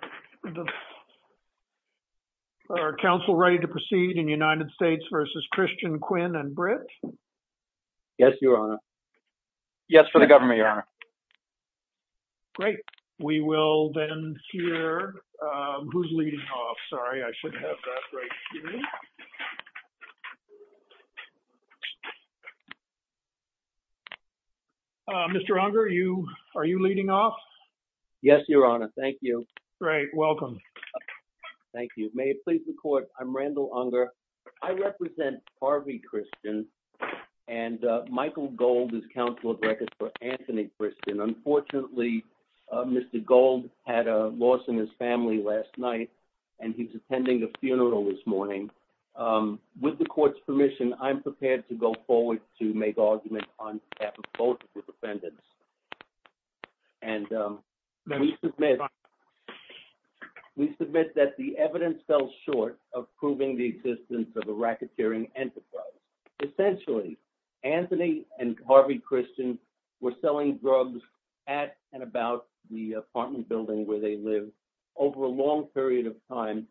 Q. Mr. Unger, are you leading off? Yes, Your Honor. Thank you. Great. Welcome. Thank you. May it please the Court, I'm Randall Unger. I represent Harvey Christian, and Michael Gold is Counselor of Records for Anthony Christian. Unfortunately, Mr. Gold had a loss in his family last night, and he's attending a funeral this morning. With the Court's permission, I'm prepared to go forward to make arguments on behalf both of the defendants. We submit that the evidence fell short of proving the existence of a racketeering enterprise. Essentially, Anthony and Harvey Christian were selling drugs at and about the apartment building where they lived over a long period of time,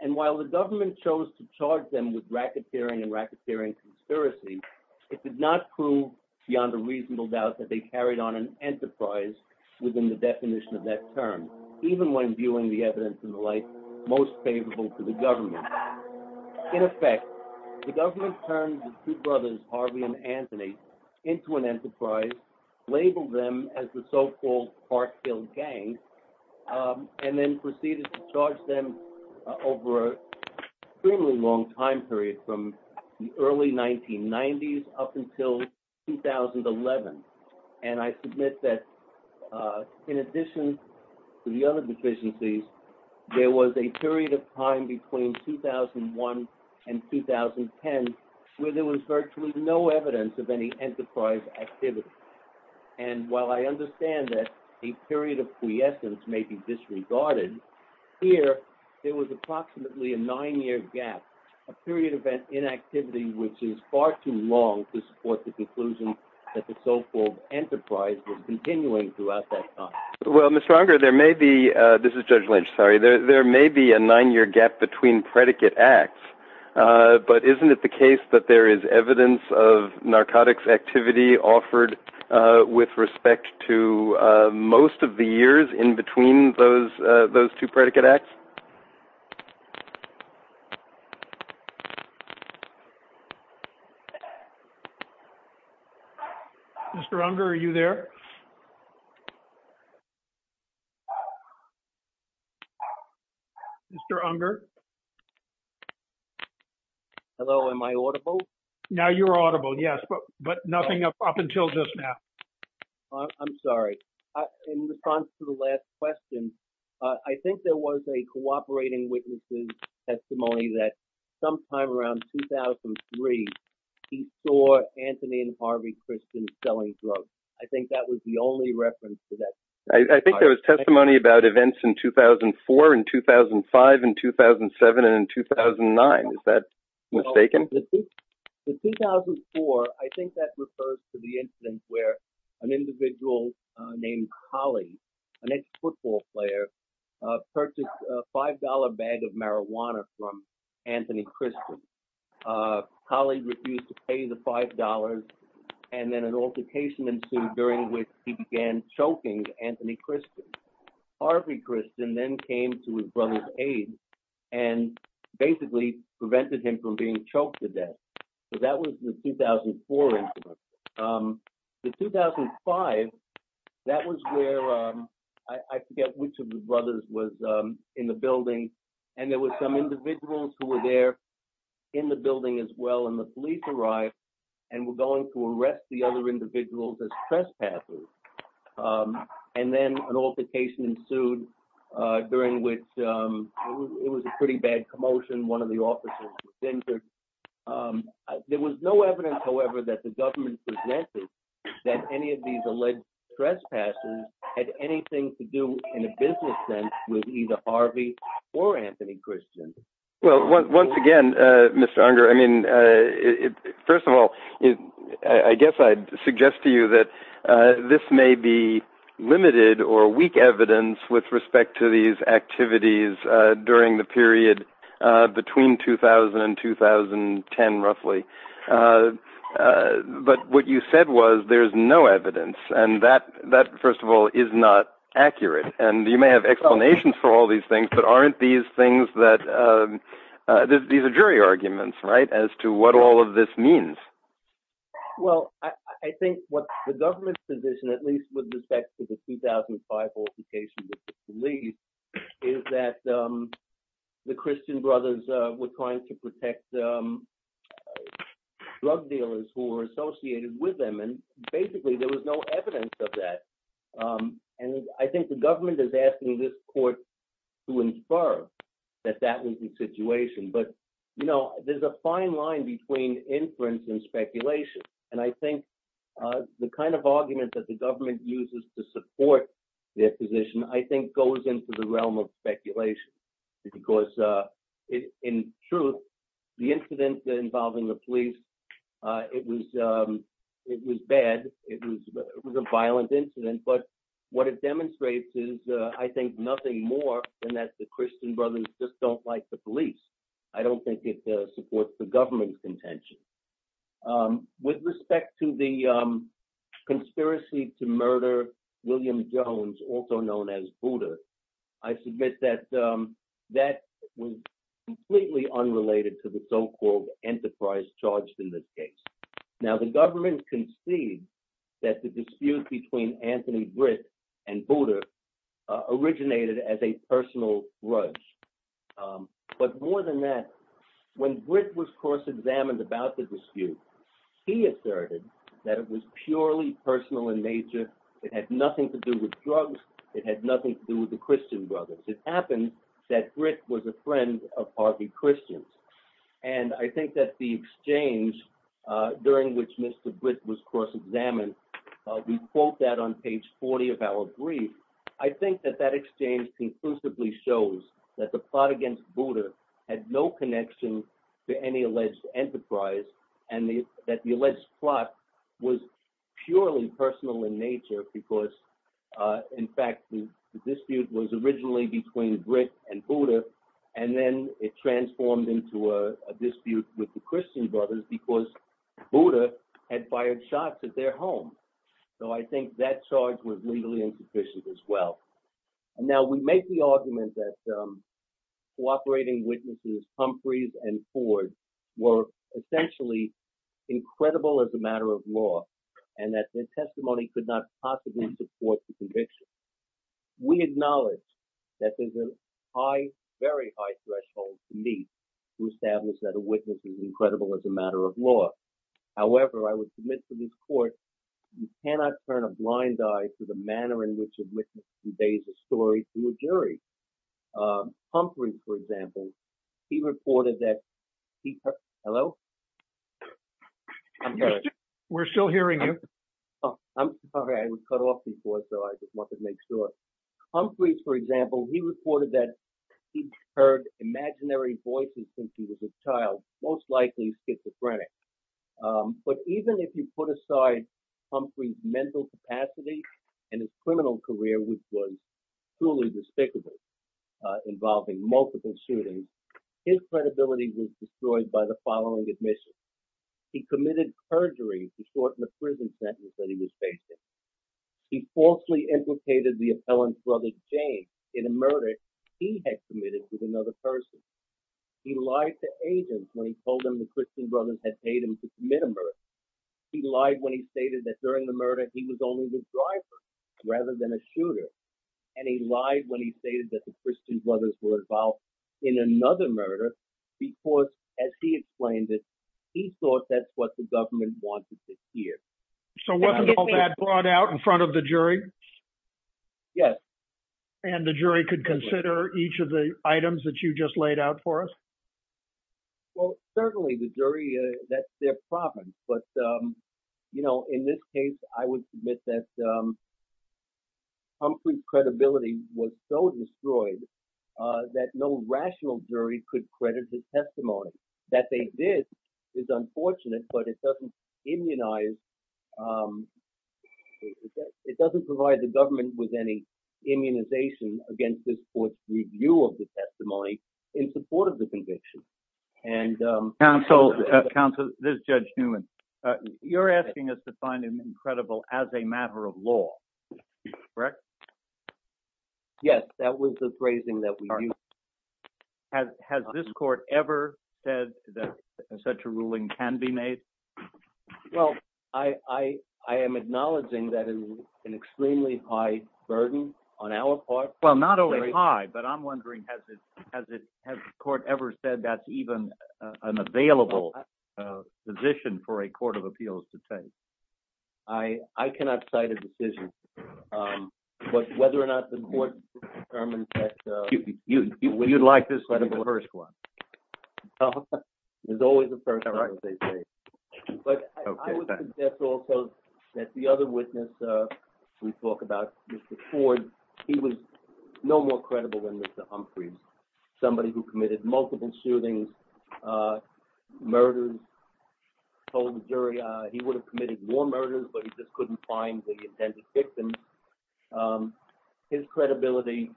and while the government chose to charge them with racketeering and racketeering conspiracy, it did not prove beyond a reasonable doubt that they carried on an enterprise within the definition of that term, even when viewing the evidence in the light most favorable to the government. In effect, the government turned the two brothers, Harvey and Anthony, into an enterprise, labeled them as the so-called Parkville Gang, and then proceeded to charge them over an extremely long time period from the early 1990s up until 2011, and I submit that, in addition to the other deficiencies, there was a period of time between 2001 and 2010 where there was virtually no evidence of any enterprise activity, and while I understand that a period of quiescence may be disregarded, here there was approximately a nine-year gap, a period of inactivity which is far too long to support the conclusion that the so-called enterprise was continuing throughout that time. Well, Mr. Unger, there may be, this is Judge Lynch, sorry, there may be a nine-year gap between predicate acts, but isn't it the case that there in between those two predicate acts? Mr. Unger, are you there? Mr. Unger? Hello, am I audible? Now you are audible, yes, but nothing up until just now. I'm sorry, in response to the last question, I think there was a cooperating witness' testimony that sometime around 2003, he saw Anthony and Harvey Christian selling drugs. I think that was the only reference to that. I think there was testimony about events in 2004 and 2005 and 2007 and 2009, is that mistaken? The 2004, I think that refers to the instance where an individual named Colley, an ex-football player, purchased a $5 bag of marijuana from Anthony Christian. Colley refused to pay the $5, and then an altercation ensued during which he began choking Anthony Christian. Harvey Christian then came to his brother's aid and basically prevented him from being choked to death. So that was the 2004 incident. The 2005, that was where, I forget which of the brothers was in the building, and there was some individuals who were there in the building as well, and the police arrived and were going to arrest the other individuals as trespassers. And then an altercation ensued during which it was a pretty bad commotion. One of the officers was injured. There was no evidence, however, that the government suggested that any of these alleged trespassers had anything to do in a business sense with either Harvey or Anthony Christian. Well, once again, Mr. Unger, I mean, first of all, I guess I'd suggest to you that this may be limited or weak evidence with respect to these activities during the period between 2000 and 2010, roughly. But what you said was there's no evidence, and that, first of all, is not accurate. And you may have explanations for all these things, but aren't these things that, these are jury arguments, right, as to what all of this means? Well, I think what the government's position, at least with respect to the 2005 altercation with the police, is that the Christian brothers were trying to protect drug dealers who were associated with them, and basically there was no evidence of that. And I think the government is asking this court to infer that that was the situation. But, you know, there's a fine line between inference and speculation. And I think the kind of argument that the government uses to support their position, I think, goes into the realm of speculation. Because, in truth, the incidents involving the police, it was bad. It was a violent incident. But what it demonstrates is, I think, nothing more than that the Christian brothers just don't like the police. I don't think it supports the government's intention. With respect to the conspiracy to murder William Jones, also known as Buddha, I submit that that was completely unrelated to the so-called enterprise charged in this case. Now, the government concedes that the dispute between Anthony Britt and Buddha originated as a personal grudge. But more than that, when Britt was cross-examined about the dispute, he asserted that it was purely personal in nature. It had nothing to do with drugs. It had nothing to do with the Christian brothers. It happened that Britt was a friend of Harvey Christian. And I think that the exchange during which Mr. Britt was cross-examined, we quote that on page 40 of our brief, I think that that exchange conclusively shows that the plot against Buddha had no connection to any alleged enterprise and that the alleged plot was purely personal in nature because, in fact, the dispute was originally between Britt and Buddha. And then it transformed into a dispute with the Christian brothers because Buddha had fired shots at their home. So I think that charge was legally insufficient as well. And now we make the argument that cooperating witnesses Humphreys and Ford were essentially incredible as a matter of law and that their testimony could not possibly support the conviction. We acknowledge that there's a high, very high threshold to meet to establish that a witness is incredible as a matter of law. However, I would submit to this court, you cannot turn a blind eye to the manner in which a witness conveys a story to a jury. Humphreys, for example, he reported that he, hello? We're still hearing you. I'm sorry, I was cut off before, so I just wanted to make sure. Humphreys, for example, he reported that he'd heard imaginary voices since he was a child, most likely schizophrenic. But even if you put aside Humphreys' mental capacity and his criminal career, which was truly despicable, involving multiple shootings, his credibility was destroyed by the following admission. He committed perjury to shorten the prison sentence that he was facing. He falsely implicated the appellant's brother, James, in a murder he had committed with another person. He lied to agents when he told them the Christian brothers had paid him to commit a murder. He lied when he stated that during the murder, he was only the driver rather than a shooter. And he lied when he stated that the Christian brothers were involved in another murder because, as he explained it, he thought that's what the government wanted to hear. So wasn't all that brought out in front of the jury? Yes. And the jury could consider each of the items that you just laid out for us? Well, certainly the jury, that's their problem. But, you know, in this case, I would submit that Humphreys' credibility was so destroyed that no rational jury could credit his testimony. That they did is unfortunate, but it doesn't immunize, it doesn't provide the government with any immunization against this court's review of the testimony in support of the conviction. Counsel, this is Judge Newman. You're asking us to find him credible as a matter of law, correct? Yes. That was the phrasing that we used. Has this court ever said that such a ruling can be made? Well, I am acknowledging that it's an extremely high burden on our part. Well, not only high, but I'm wondering, has the court ever said that's even an available position for a court of appeals to take? I cannot cite a decision, but whether or not the court determines that... You'd like this to be the first one? It's always the first one, as they say. But I would suggest also that the other witness we spoke about, Mr. Ford, he was no more credible than Mr. Humphreys. Somebody who committed multiple shootings, murders, told the jury he would have committed more murders, but he just couldn't find the intended victim. His credibility,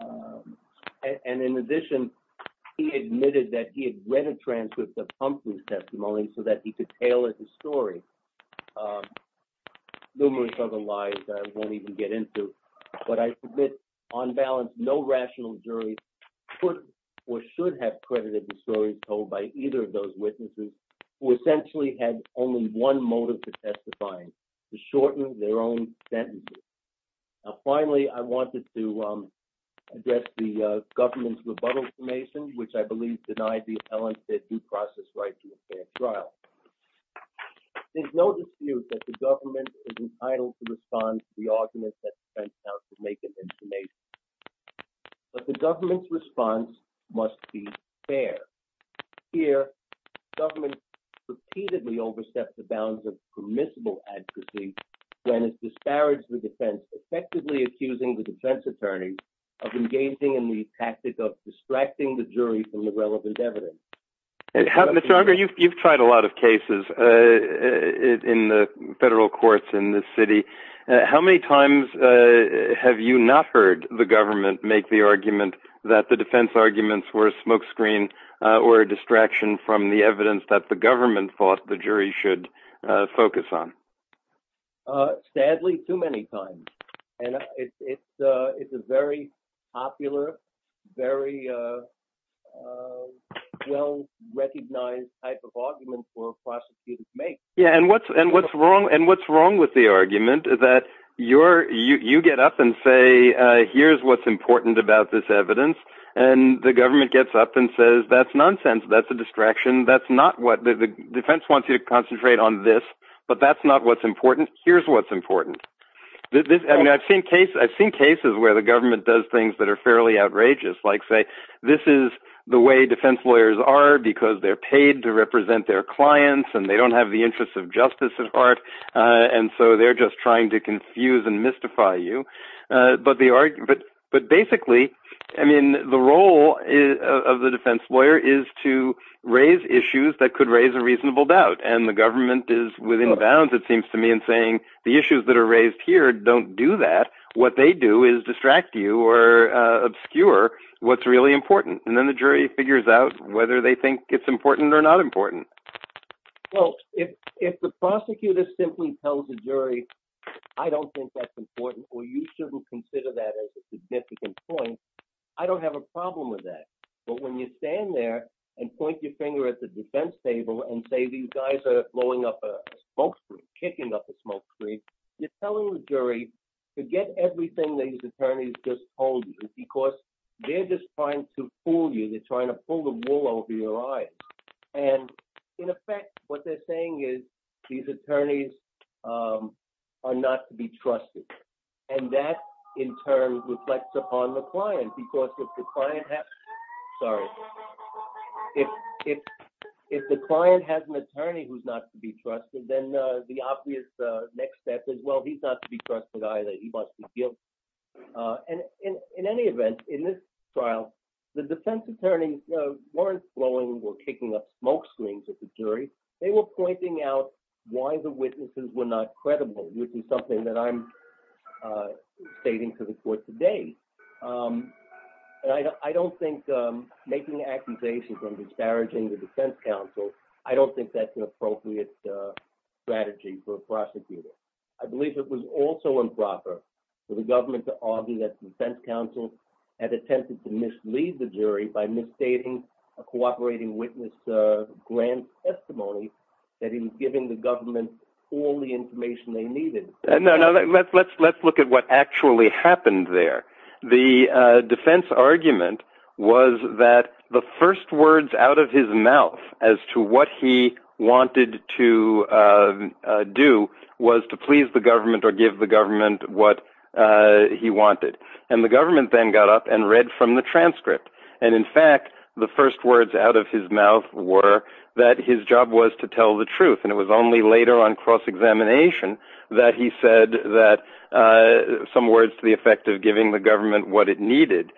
and in addition, he admitted that he had read a transcript of Humphrey's testimony so that he could tailor the story. Numerous other lies I won't even get into, but I submit on balance, no rational jury could or should have credited the stories told by either of those witnesses who essentially had only one motive for testifying, to shorten their own sentences. Finally, I wanted to address the government's rebuttal information, which I believe denied the appellant their due process right to a fair trial. There's no dispute that the government is entitled to respond to the government's response must be fair. Here, government repeatedly overstepped the bounds of permissible advocacy when it disparaged the defense, effectively accusing the defense attorney of engaging in the tactic of distracting the jury from the relevant evidence. You've tried a lot of cases in the federal courts in this city. How many times have you not heard the government make the argument that the defense arguments were a smokescreen or a distraction from the evidence that the government thought the jury should focus on? Sadly, too many times. It's a very popular, very well-recognized type of argument for prosecutors to make. What's wrong with the argument that you get up and say, here's what's important about this evidence, and the government gets up and says, that's nonsense. That's a distraction. The defense wants you to concentrate on this, but that's not what's important. Here's what's important. I've seen cases where the government does things that are fairly outrageous, like say, this is the way defense lawyers are because they're paid to the interests of justice at heart, and so they're just trying to confuse and mystify you. The role of the defense lawyer is to raise issues that could raise a reasonable doubt, and the government is within bounds, it seems to me, in saying the issues that are raised here don't do that. What they do is distract you or obscure what's really important, and then the jury figures out whether they think it's important or not important. Well, if the prosecutor simply tells the jury, I don't think that's important, or you shouldn't consider that as a significant point, I don't have a problem with that. But when you stand there and point your finger at the defense table and say, these guys are blowing up a smoke screen, kicking up a smoke screen, you're telling the jury, forget everything these attorneys just told you because they're just trying to fool you, they're trying to pull the wool over your eyes. And in effect, what they're saying is, these attorneys are not to be trusted. And that, in turn, reflects upon the client, because if the client has an attorney who's not to be trusted, then the obvious next step is, well, he's not to be trusted either, he wants to appeal. And in any event, in this trial, the defense attorneys weren't blowing or kicking up smoke screens at the jury, they were pointing out why the witnesses were not credible, which is something that I'm stating to the court today. And I don't think making an accusation from disparaging the defense counsel, I don't think that's an appropriate strategy for a prosecutor. I believe it was also improper for the government to argue that the defense counsel had attempted to mislead the jury by misstating a cooperating witness' grand testimony, that he was giving the government all the information they needed. Let's look at what actually happened there. The defense argument was that the first words out of his mouth as to what he wanted to do was to please the government or give the government what he wanted. And the government then got up and read from the transcript. And in fact, the first words out of his mouth were that his job was to tell the truth. And it was only later on cross-examination that he said that some words to the effect of giving the government what it needed.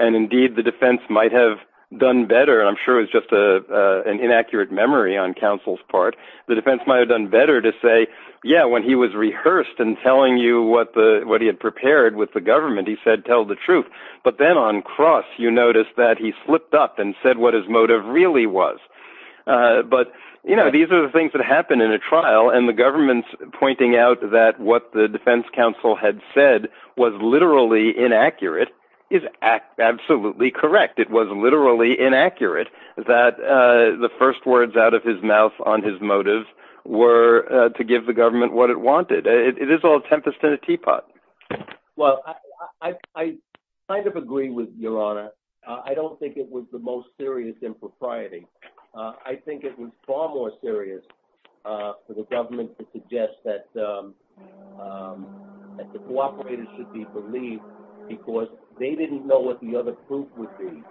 And indeed, the defense might have done better. I'm sure it's just an inaccurate memory on counsel's part. The defense might have done better to say, yeah, when he was rehearsed and telling you what he had prepared with the government, he said, tell the truth. But then on cross, you notice that he slipped up and said what his motive really was. But these are the things that happen in a trial and the government's pointing out that what the defense counsel had said was literally inaccurate is absolutely correct. It was literally inaccurate that the first words out of his mouth on his motives were to give the government what it wanted. It is all tempest in a teapot. Well, I kind of agree with your honor. I don't think it was the most serious impropriety. I think it was far more serious for the government to suggest that that the cooperators should be believed because they didn't know what the other proof would be.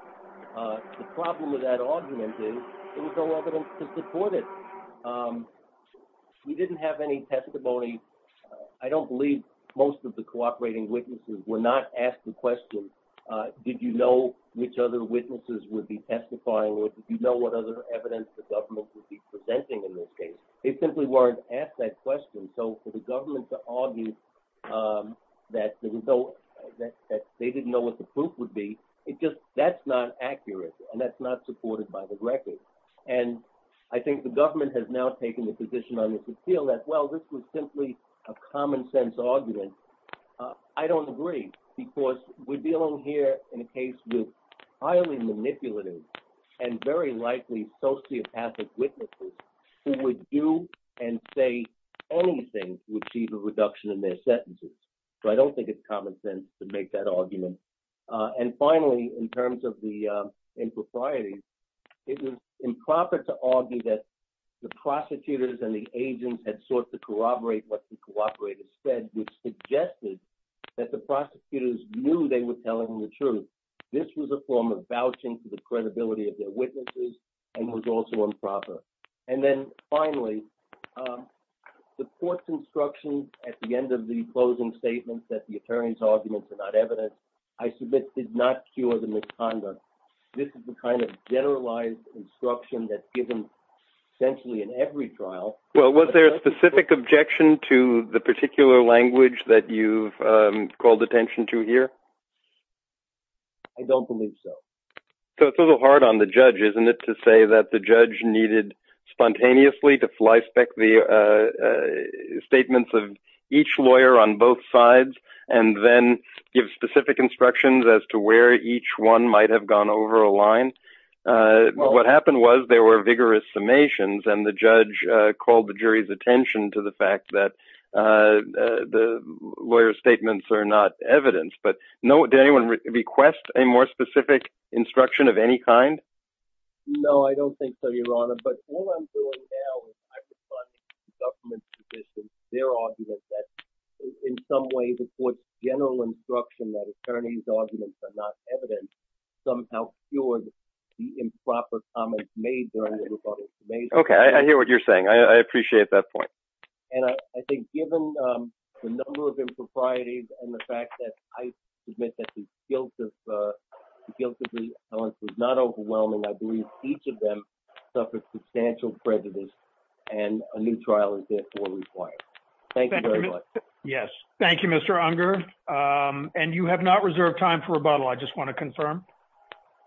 The problem with that argument is there was no evidence to support it. We didn't have any testimony. I don't believe most of the cooperating witnesses were not asked the question, did you know which other witnesses would be testifying or did you know what other evidence the government would be presenting in this case? They simply weren't asked that question. So for the government to argue that they didn't know what the proof would be, it just that's not accurate and that's not supported by the record. And I think the government has now taken the position on this appeal as well. This was simply a common sense argument. I don't agree because we're dealing here in a case with highly manipulative and very likely sociopathic witnesses who would do and say anything to achieve a reduction in their sentences. So I don't think it's common sense to make that argument. And finally, in terms of the impropriety, it is improper to argue that the prosecutors and the agents had sought to corroborate what the cooperators said, which suggested that the prosecutors knew they were was also improper. And then finally, the court's instructions at the end of the closing statements that the attorney's arguments are not evident, I submit did not cure the misconduct. This is the kind of generalized instruction that's given essentially in every trial. Well, was there a specific objection to the particular language that you've called attention to here? I don't believe so. So it's a little hard on the judge, isn't it, to say that the judge needed spontaneously to fly spec the statements of each lawyer on both sides and then give specific instructions as to where each one might have gone over a line. What happened was there were vigorous summations and the judge called the jury's attention to the fact that the lawyer's statements are not evidence. But did anyone request a more specific instruction of any kind? No, I don't think so, Your Honor, but all I'm doing now is I'm responding to the government's position, their argument that in some way the court's general instruction that attorneys' arguments are not evidence somehow cured the improper comments made during the rebuttal. Okay, I hear what you're saying. I feel guilty. Not overwhelming. I believe each of them suffered substantial prejudice and a new trial is therefore required. Thank you very much. Yes. Thank you, Mr. Unger. And you have not reserved time for rebuttal. I just want to confirm.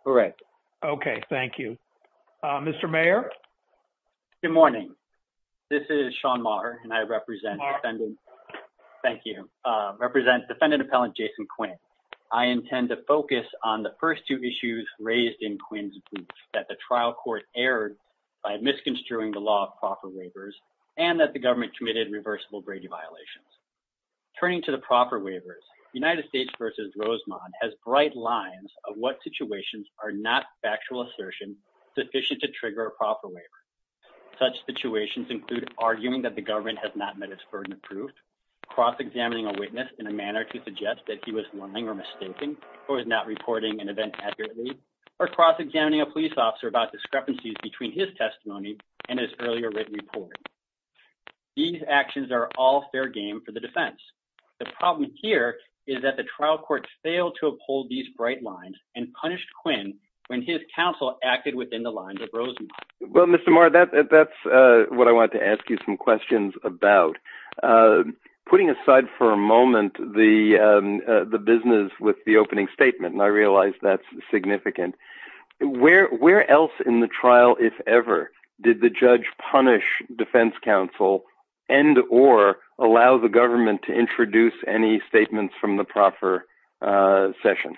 All right. Okay. Thank you, Mr. Mayor. Good morning. This is Sean Maher and I represent thank you represent defendant appellant Jason Quinn. I intend to focus on the first two issues raised in Quinn's group that the trial court erred by misconstruing the law of proper waivers and that the government committed reversible Brady violations. Turning to the proper waivers, United States versus Rosemont has bright lines of what situations are not factual assertion sufficient to trigger a proper waiver. Such situations include arguing that the government has not met its burden of proof, cross examining a witness in a manner to suggest that he was willing or mistaken or is not reporting an event accurately, or cross examining a police officer about discrepancies between his testimony and his earlier written report. These actions are all fair game for the defense. The problem here is that the trial court failed to uphold these bright lines and punished Quinn when his counsel acted within the lines of Rosemont. Well, Mr. Maher, that's what I wanted to ask you some questions about. Putting aside for a moment the business with the opening statement, and I realize that's significant, where else in the trial, if ever, did the judge punish defense counsel and or allow the government to introduce any statements from the proper session?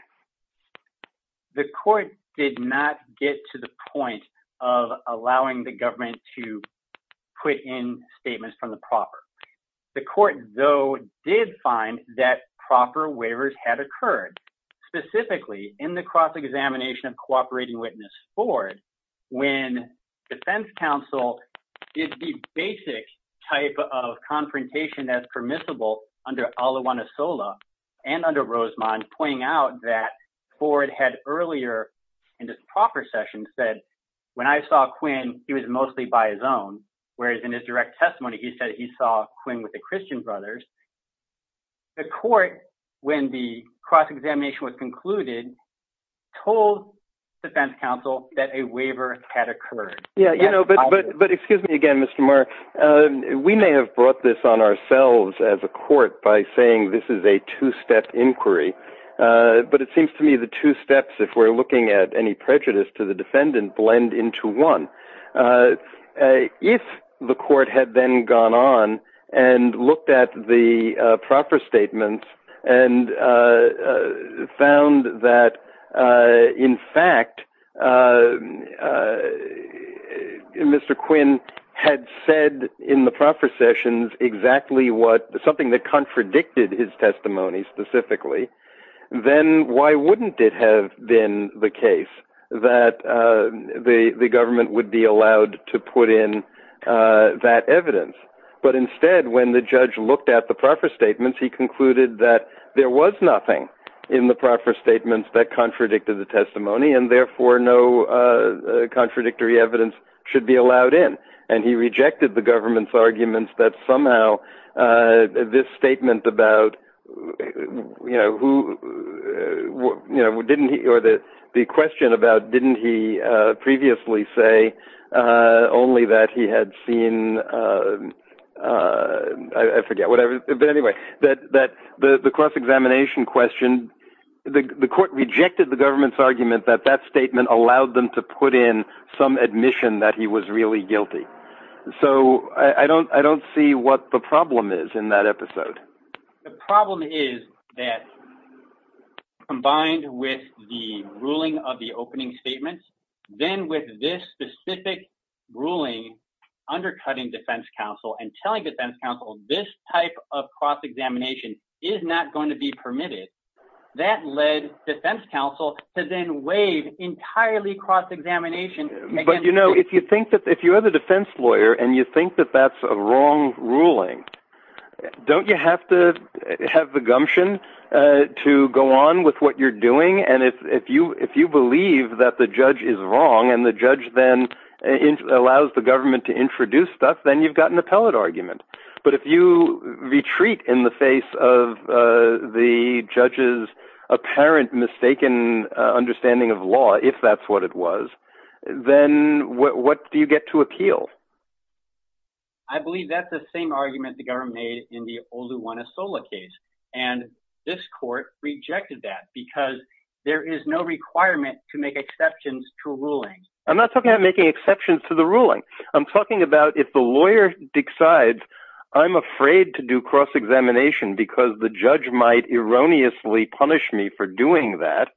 The court did not get to the point of allowing the government to put in statements from the proper. The court, though, did find that proper waivers had occurred, specifically in the cross examination of cooperating witness Ford, when defense counsel is the basic type of confrontation that's permissible under Alajuanasola and under Rosemont, pointing out that Ford had earlier in this proper session said, when I saw Quinn, he was mostly by his own, whereas in his direct testimony, he said he saw Quinn with the Christian brothers. The court, when the cross examination was concluded, told defense counsel that a waiver had occurred. Excuse me again, Mr. Maher. We may have brought this on ourselves as a court by saying this is a two-step inquiry, but it seems to me the two steps, if we're looking at any prejudice to the defendant, blend into one. If the court had then gone on and looked at the evidence, and Mr. Quinn had said in the proper sessions exactly what, something that contradicted his testimony specifically, then why wouldn't it have been the case that the government would be allowed to put in that evidence? But instead, when the judge looked at the proper statements, he concluded that there was nothing in the proper statements that contradicted the testimony, and therefore, no contradictory evidence should be allowed in. He rejected the government's arguments that somehow this statement about who, or the question about didn't he previously say only that he had seen, I forget, whatever. But anyway, the cross examination question, the court rejected the government's argument that that statement allowed them to put in some admission that he was really guilty. So I don't see what the problem is in that episode. The problem is that combined with the ruling of the opening statement, then with this specific ruling undercutting defense counsel and telling defense counsel this type of cross examination is not going to be permitted, that led defense counsel to then waive entirely cross examination. But you know, if you think that if you're the defense lawyer, and you think that that's a wrong ruling, don't you have to have the gumption to go on with what you're doing? And if you believe that the judge is wrong, and the judge then allows the government to introduce stuff, then you've got an appellate argument. But if you retreat in the face of the judge's apparent mistaken understanding of law, if that's what it was, then what do you get to appeal? I believe that's the same argument the government made in the Oluwatosola case. And this court rejected that because there is no requirement to make exceptions to rulings. I'm not talking about making exceptions to the ruling. I'm talking about if the lawyer decides, I'm afraid to do cross examination because the judge might erroneously punish me for doing that.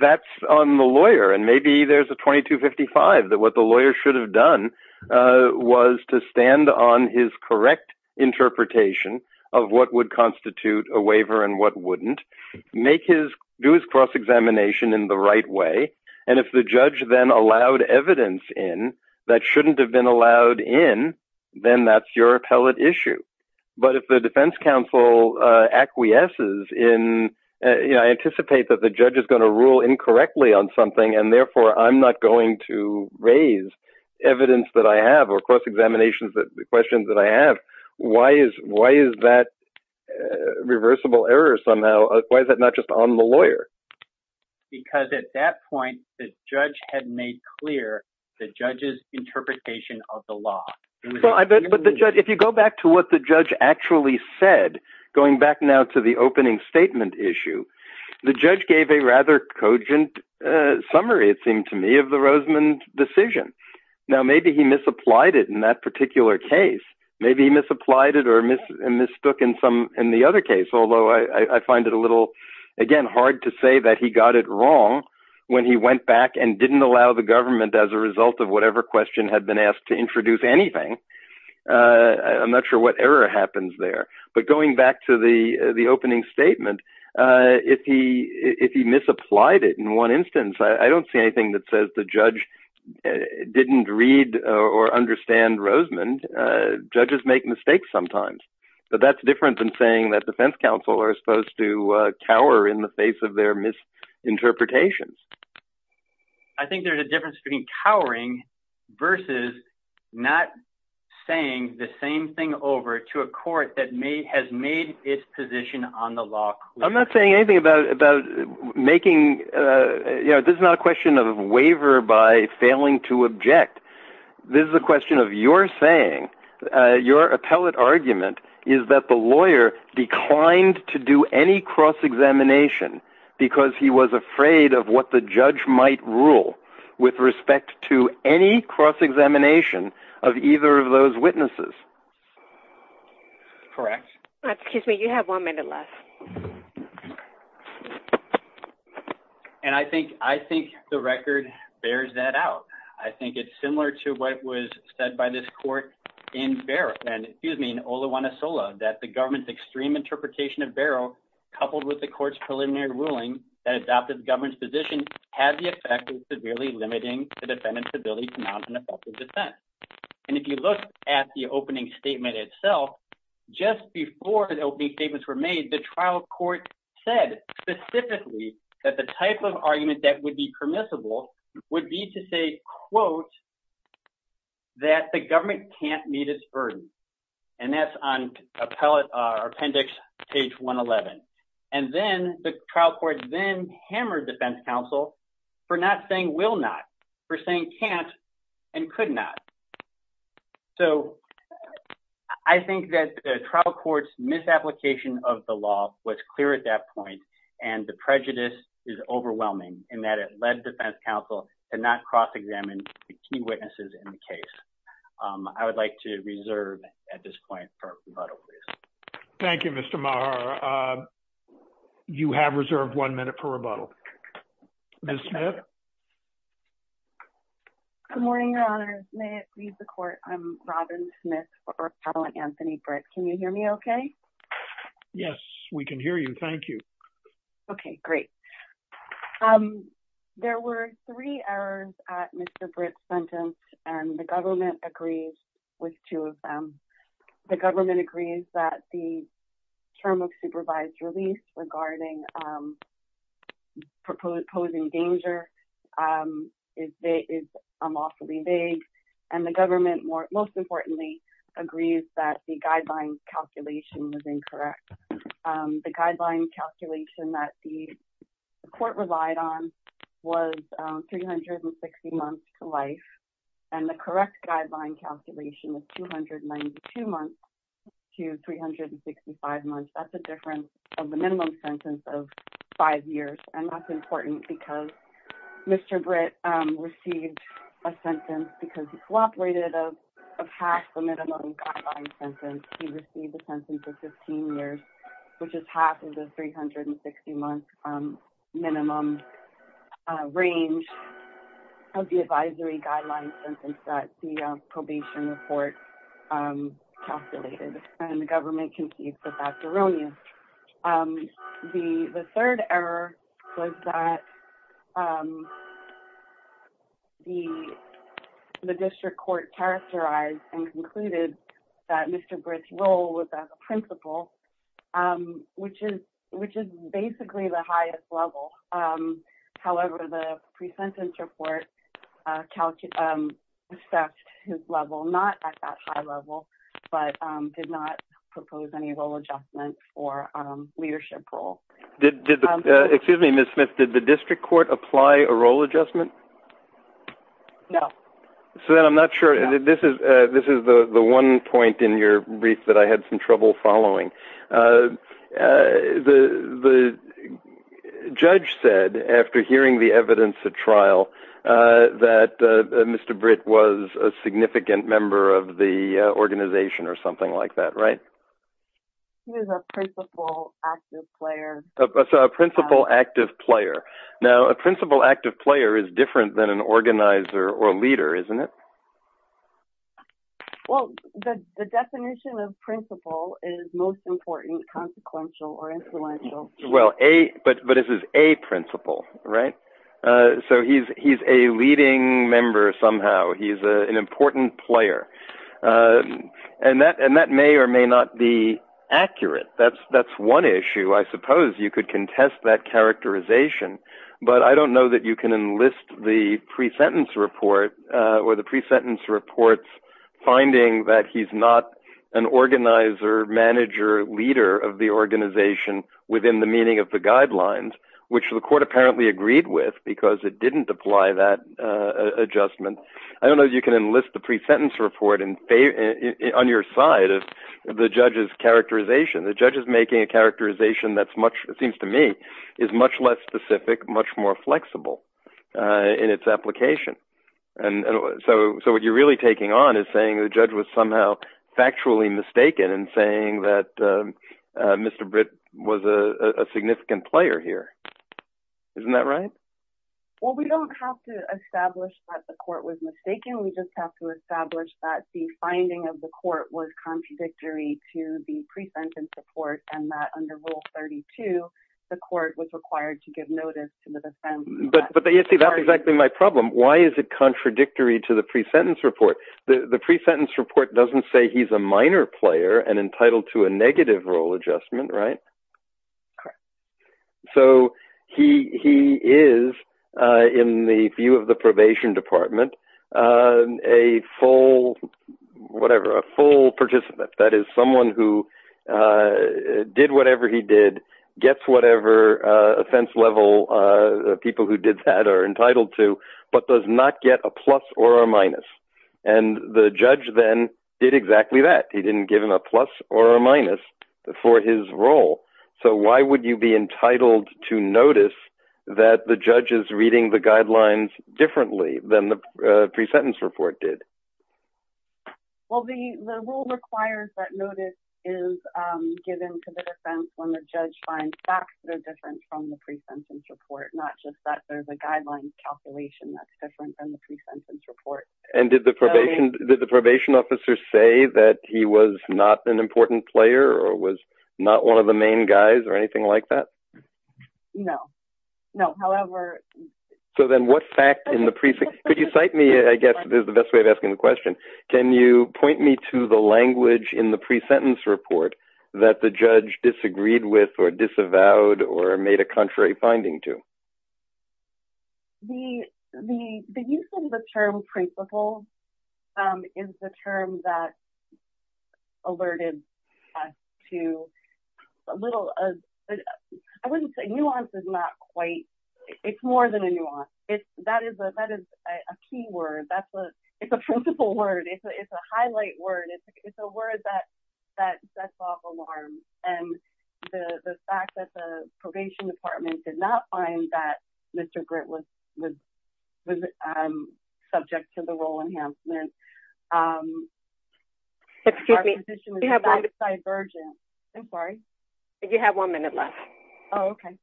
That's on the lawyer. And maybe there's a 2255 that what the lawyer should have done was to stand on his correct interpretation of what would constitute a waiver and what wouldn't make his do his cross examination in the right way. And if the judge then allowed evidence in that shouldn't have been allowed in, then that's your appellate issue. But if the Defense Council acquiesces in, you know, I anticipate that the judge is going to rule incorrectly on something and therefore I'm not going to raise evidence that I have or cross examinations that the questions that I have. Why is that reversible error somehow? Why is that not just on the lawyer? Because at that point, the judge had made clear the judge's interpretation of the law. If you go back to what the judge actually said, going back now to the opening statement issue, the judge gave a rather cogent summary, it seemed to me, of the Roseman decision. Now, maybe he misapplied it in that particular case. Maybe he misapplied it or mistook in some in the other case, although I find it a little, again, hard to say that he got it wrong when he went back and didn't allow the government as a result of whatever question had been asked to introduce anything. I'm not sure what error happens there. But going back to the opening statement, if he misapplied it in one instance, I don't see anything that says the judge didn't read or understand Roseman. Judges make mistakes sometimes. But that's different than saying that defense counsel are supposed to cower in the face of their misinterpretations. I think there's a difference between cowering versus not saying the same thing over to a court that has made its position on the law clear. I'm not saying anything about making, you know, this is not a question of waiver by failing to object. This is a question of your saying, your appellate argument is that the lawyer declined to do any cross-examination because he was afraid of what the judge might rule with respect to any cross-examination of either of those witnesses. Correct. Excuse me, you have one minute left. And I think the record bears that out. I think it's similar to what was said by this court in Barrow, and excuse me, in Olajuanasola, that the government's extreme interpretation of Barrow coupled with the court's preliminary ruling that adopted the government's position had the effect of severely limiting the defendant's ability to mount an effective defense. And if you look at the opening statement itself, just before the opening statements were made, the trial court said specifically that the type of argument that would be permissible would be to say, quote, that the government can't meet its burden. And that's on Appendix page 111. And then the trial court then hammered defense counsel for not saying will not, for saying can't, and could not. So I think that the trial court's misapplication of the law was clear at that point, and the prejudice is overwhelming in that it led defense counsel to not cross-examine the key witnesses in the case. I would like to reserve at this point for rebuttal, please. Thank you, Mr. Maher. You have reserved one minute for rebuttal. Ms. Smith? Good morning, Your Honors. May it please the court, I'm Robin Smith for appellant Anthony Britt. Can you hear me okay? Yes, we can hear you. Thank you. Okay, great. There were three errors at Mr. Britt's sentence, and the government agrees with two of them. The government agrees that the term of supervised release regarding the proposed posing danger is unlawfully vague, and the government most importantly agrees that the guideline calculation was incorrect. The guideline calculation that the court relied on was 360 months to life, and the correct guideline calculation was 292 months to 365 months. That's the difference of the minimum sentence of five years, and that's important because Mr. Britt received a sentence because he cooperated of half the minimum guideline sentence. He received a sentence of 15 years, which is half of the 360-month minimum range of the advisory guideline sentence that the probation report calculated, and the government can see if the fact will ruin you. The third error was that the district court characterized and concluded that Mr. Britt's role was as a principal, which is basically the highest level. However, the pre-sentence report assessed his level, not at that high level, but did not propose any role adjustment or leadership role. Excuse me, Ms. Smith. Did the district court apply a role adjustment? No. I'm not sure. This is the one point in your brief that I had some trouble following. The judge said, after hearing the evidence at trial, that Mr. Britt was a significant member of the organization or something like that, right? He was a principal active player. A principal active player. Now, a principal active player is different than an organizer or leader, isn't it? The definition of principal is most important, consequential, or influential. This is a principal, right? He's a leading member somehow. He's an important player. That may or may not be accurate. That's one issue. I suppose you could contest that with the pre-sentence reports finding that he's not an organizer, manager, leader of the organization within the meaning of the guidelines, which the court apparently agreed with because it didn't apply that adjustment. I don't know if you can enlist the pre-sentence report on your side of the judge's characterization. The judge is making a characterization that seems to me is much less specific, much more flexible in its application. So, what you're really taking on is saying the judge was somehow factually mistaken and saying that Mr. Britt was a significant player here. Isn't that right? Well, we don't have to establish that the court was mistaken. We just have to establish that the finding of the court was contradictory to the pre-sentence report and that under Rule 32, the court was required to give notice to the defense. But you see, that's exactly my problem. Why is it contradictory to the pre-sentence report? The pre-sentence report doesn't say he's a minor player and entitled to a negative rule adjustment. So, he is, in the view of the probation department, a full participant. That entitled to, but does not get a plus or a minus. And the judge then did exactly that. He didn't give him a plus or a minus for his role. So, why would you be entitled to notice that the judge is reading the guidelines differently than the pre-sentence report did? Well, the rule requires that notice is given to the defense when the judge finds facts that are a guideline calculation that's different from the pre-sentence report. And did the probation officer say that he was not an important player or was not one of the main guys or anything like that? No. No. However... So, then what fact in the pre-sentence... Could you cite me, I guess, is the best way of asking the question. Can you point me to the language in the pre-sentence report that the judge disagreed with or disavowed or made a contrary finding to? The use of the term principle is the term that alerted us to a little... I wouldn't say nuance is not quite... It's more than a nuance. That is a key word. It's a principle word. It's a highlight word. It's a word that sets off alarms. And the fact that the probation department did not find that Mr. Gritt was subject to the rule enhancement... Excuse me. Our position is divergent. I'm sorry. You have one minute left. Oh, okay.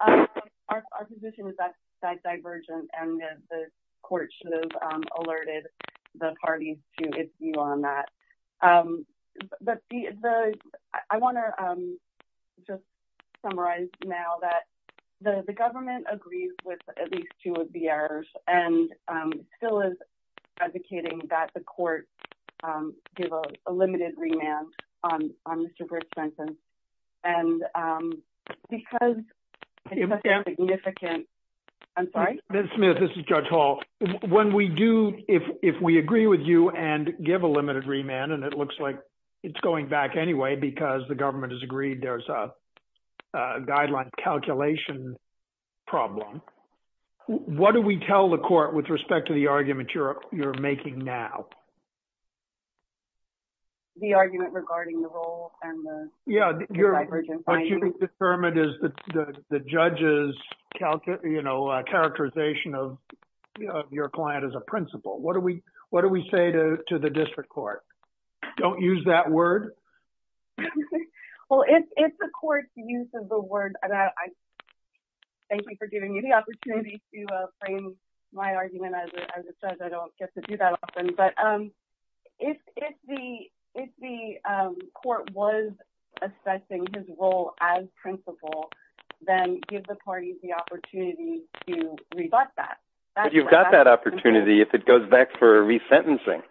Our position is that divergent and that the court should have alerted the parties to its view on that. I want to just summarize now that the government agrees with at least two of the errors and still is advocating that the court give a limited remand on Mr. Gritt's sentence. And because it's a significant... I'm sorry? Ms. Smith, this is Judge Hall. If we agree with you and give a limited remand and it looks like it's going back anyway because the government has agreed there's a guideline calculation problem, what do we tell the court with respect to the argument you're making now? The argument regarding the rules and the divergent findings? Yeah. What you've determined is the judge's characterization of your client as a principal. What do we say to the district court? Don't use that word? Well, it's the court's use of the word. Thank you for giving me the opportunity to frame my argument. As I said, I don't get to do that often. But if the court was assessing his role as principal, then give the parties the opportunity to rebut that. You've got that opportunity if it goes back for resentencing.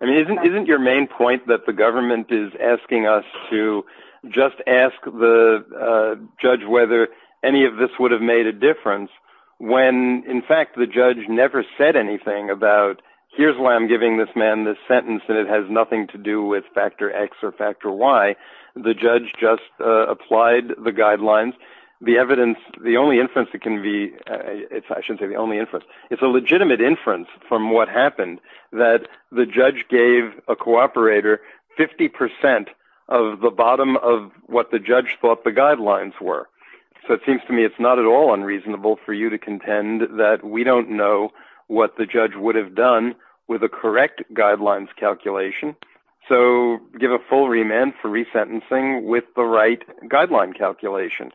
I mean, isn't your main point that the government is asking us to just ask the judge whether any of this would have made a difference when in fact the judge never said anything about, here's why I'm giving this man this sentence and it has nothing to do with factor X or factor Y. The judge just applied the guidelines. It's a legitimate inference from what happened that the judge gave a cooperator 50% of the bottom of what the judge thought the guidelines were. So it seems to me it's not at all unreasonable for you to contend that we don't know what the judge would have done with the correct guidelines calculation. So give a full remand for resentencing with the right guideline calculation.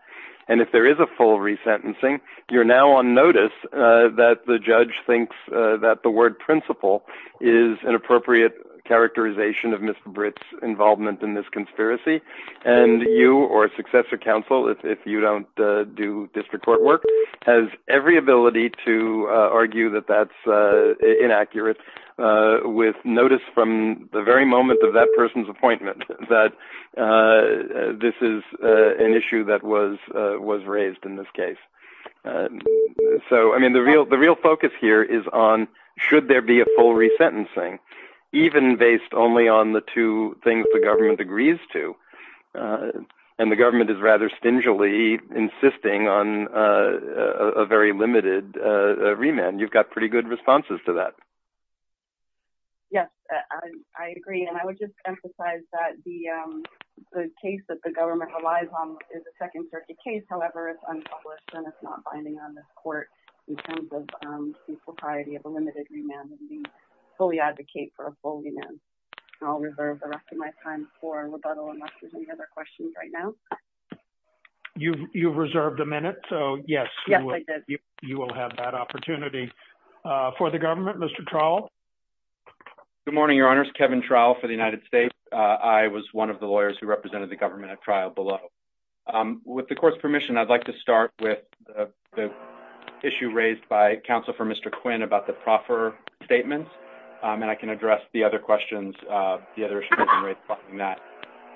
And if there is a full resentencing, you're now on notice that the judge thinks that the word principal is an appropriate characterization of Mr. Britt's involvement in this conspiracy. And you or successor counsel, if you don't do district court work, has every ability to argue that that's inaccurate with notice from the very moment of that person's appointment that this is an issue that was raised in this case. So I mean, the real focus here is on should there be a full resentencing, even based only on the two things the government agrees to. And the government is rather stingily insisting on a very limited remand. You've got pretty good responses to that. Yes, I agree. And I would just emphasize that the case that the government relies on is a second circuit case. However, it's unpublished and it's not binding on this court in terms of propriety of a limited remand. And we fully advocate for a full remand. I'll reserve the rest of my time for rebuttal unless there's any other questions right now. You've reserved a minute. So yes, you will have that opportunity for the government, Mr. Trowell. Good morning, Your Honors. Kevin Trowell for the United States. I was one of the lawyers who represented the government at trial below. With the court's permission, I'd like to start with the issue raised by counsel for Mr. Quinn about the proffer statements. And I can address the other questions. I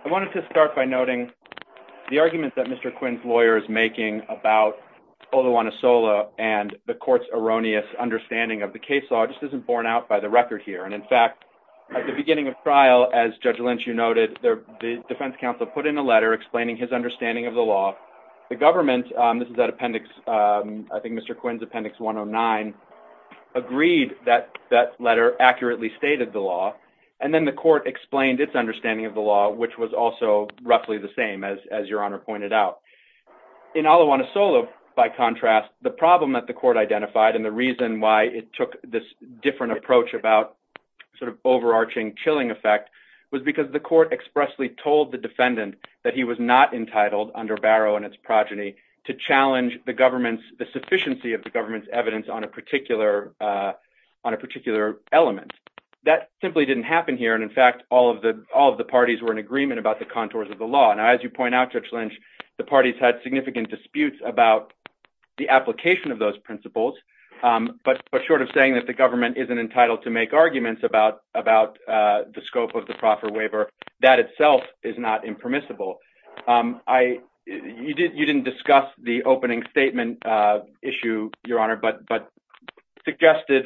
wanted to start by noting the argument that Mr. Quinn's lawyer is making about Olawunasola and the court's erroneous understanding of the case law just isn't borne out by the record here. And in fact, at the beginning of trial, as Judge Lynch, you noted, the defense counsel put in a letter explaining his understanding of the law. The government, this is that appendix, I think Mr. Quinn's appendix 109, agreed that that letter accurately stated the law. And then the court explained its understanding of the law, which was also roughly the same as Your Honor pointed out. In Olawunasola, by contrast, the problem that the court identified and the reason why it took this different approach about sort of overarching chilling effect was because the court expressly told the defendant that he was not entitled under its progeny to challenge the government's, the sufficiency of the government's evidence on a particular element. That simply didn't happen here. And in fact, all of the parties were in agreement about the contours of the law. And as you point out, Judge Lynch, the parties had significant disputes about the application of those principles. But short of saying that the government isn't entitled to make arguments about the scope of the proffer waiver, that itself is not impermissible. You didn't discuss the opening statement issue, Your Honor, but suggested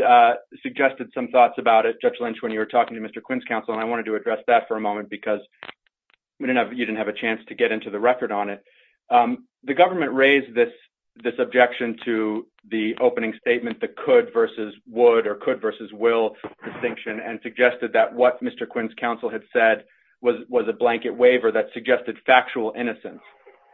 some thoughts about it, Judge Lynch, when you were talking to Mr. Quinn's counsel. And I wanted to address that for a moment because you didn't have a chance to get into the record on it. The government raised this objection to the opening statement, the could versus would or could versus will distinction and suggested that what Mr. Quinn's counsel had said was a blanket waiver that suggested factual innocence.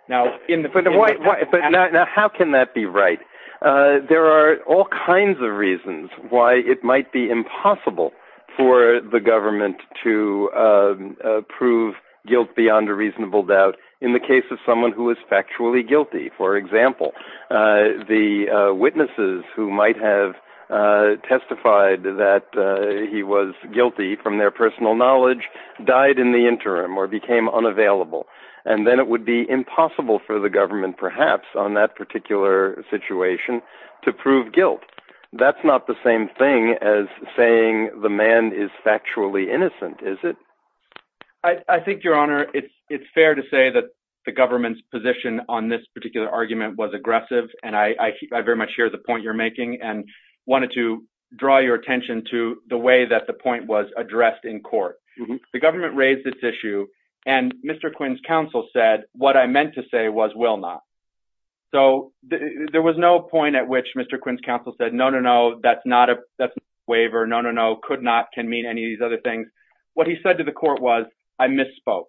Now, in the... But how can that be right? There are all kinds of reasons why it might be impossible for the government to prove guilt beyond a reasonable doubt. In the case of someone who was factually guilty, for example, the witnesses who might have testified that he was guilty from their personal knowledge died in the interim or became unavailable. And then it would be impossible for the government perhaps on that particular situation to prove guilt. That's not the same thing as saying the man is factually innocent, is it? I think, Your Honor, it's fair to say that the government's position on this particular argument was aggressive. And I very much share the point you're The government raised this issue and Mr. Quinn's counsel said what I meant to say was will not. So there was no point at which Mr. Quinn's counsel said, no, no, no, that's not a waiver, no, no, no, could not, can mean any of these other things. What he said to the court was, I misspoke.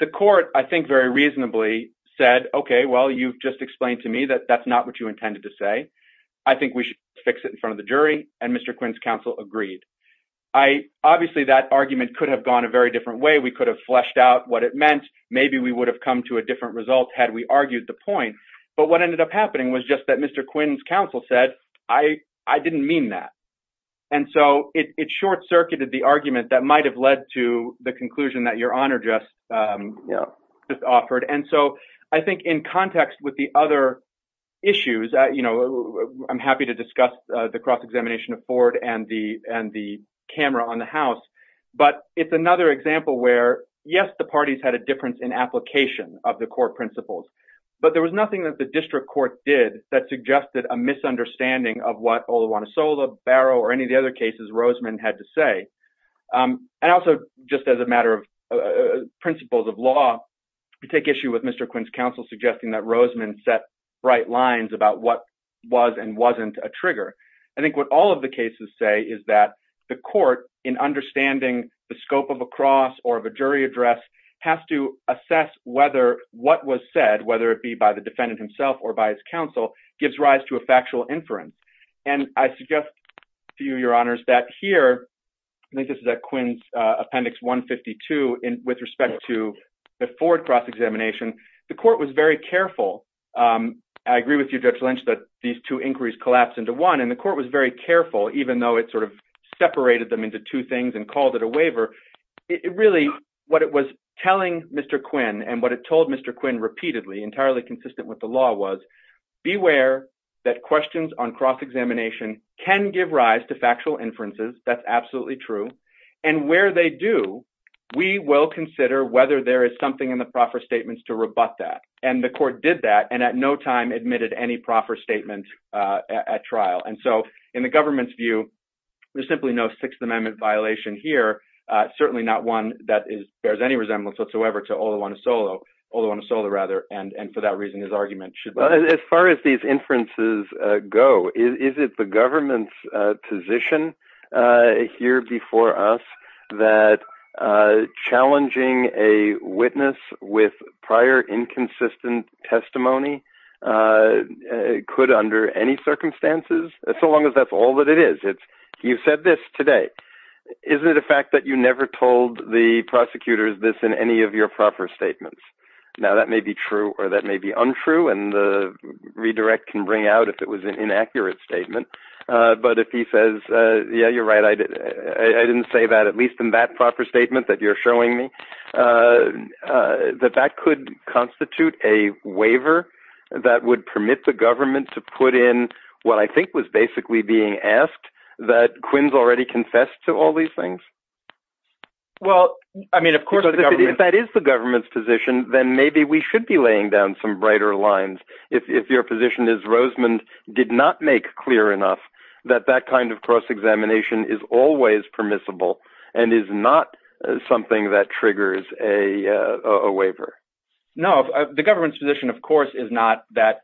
The court, I think very reasonably said, okay, well, you've just explained to me that that's not what you intended to say. I think we should fix it in front of the jury. And Mr. Quinn's counsel agreed. Obviously, that argument could have gone a very different way. We could have fleshed out what it meant. Maybe we would have come to a different result had we argued the point. But what ended up happening was just that Mr. Quinn's counsel said, I didn't mean that. And so it short circuited the argument that might have led to the conclusion that Your Honor just offered. And so I think in context with the other issues, I'm happy to discuss the cross-examination of Ford and the camera on the house. But it's another example where, yes, the parties had a difference in application of the court principles, but there was nothing that the district court did that suggested a misunderstanding of what Oluwatosola, Barrow, or any of the other cases Roseman had to say. And also just as a matter of principles of law, you take issue with Mr. Quinn's counsel suggesting that Roseman set right lines about what was and wasn't a trigger. I think what all of the cases say is that the court in understanding the scope of a cross or of a jury address has to assess whether what was said, whether it be by the defendant himself or by his counsel, gives rise to a factual inference. And I suggest to you, Your Honors, that here, I think this is at Quinn's appendix 152 with respect to the Ford cross-examination, the court was very careful. I agree with you, Judge Lynch, that these two inquiries collapsed into one and the court was very careful, even though it sort of separated them into two things and called it a waiver. It really, what it was telling Mr. Quinn and what it told Mr. Quinn repeatedly, entirely consistent with the law was, beware that questions on cross-examination can give rise to factual inferences. That's absolutely true. And where they do, we will consider whether there is something in the proffer statements to rebut that. And the court did that and at no time admitted any proffer statement at trial. And so in the government's view, there's simply no Sixth Amendment violation here. Certainly not one that is, bears any resemblance whatsoever to Oluwatosola, Oluwatosola rather. And for that reason, his argument should... As far as these inferences go, is it the government's position here before us that challenging a witness with prior inconsistent testimony could under any circumstances, so long as that's all that it is. It's, you said this today, isn't it a fact that you never told the prosecutors this in any of your proffer statements? Now that may be true or that may be untrue and the redirect can bring out if it was an inaccurate statement. But if he says, yeah, you're right. I didn't say that, at least in that proffer statement that you're showing me, that that could constitute a waiver that would permit the government to put in what I think was basically being asked that Quinn's already confessed to all these things. Well, I mean, of course, if that is the government's position, then maybe we should be laying down some brighter lines. If your position is Rosemond did not make clear enough that that kind of cross-examination is always permissible and is not something that triggers a waiver. No, the government's position, of course, is not that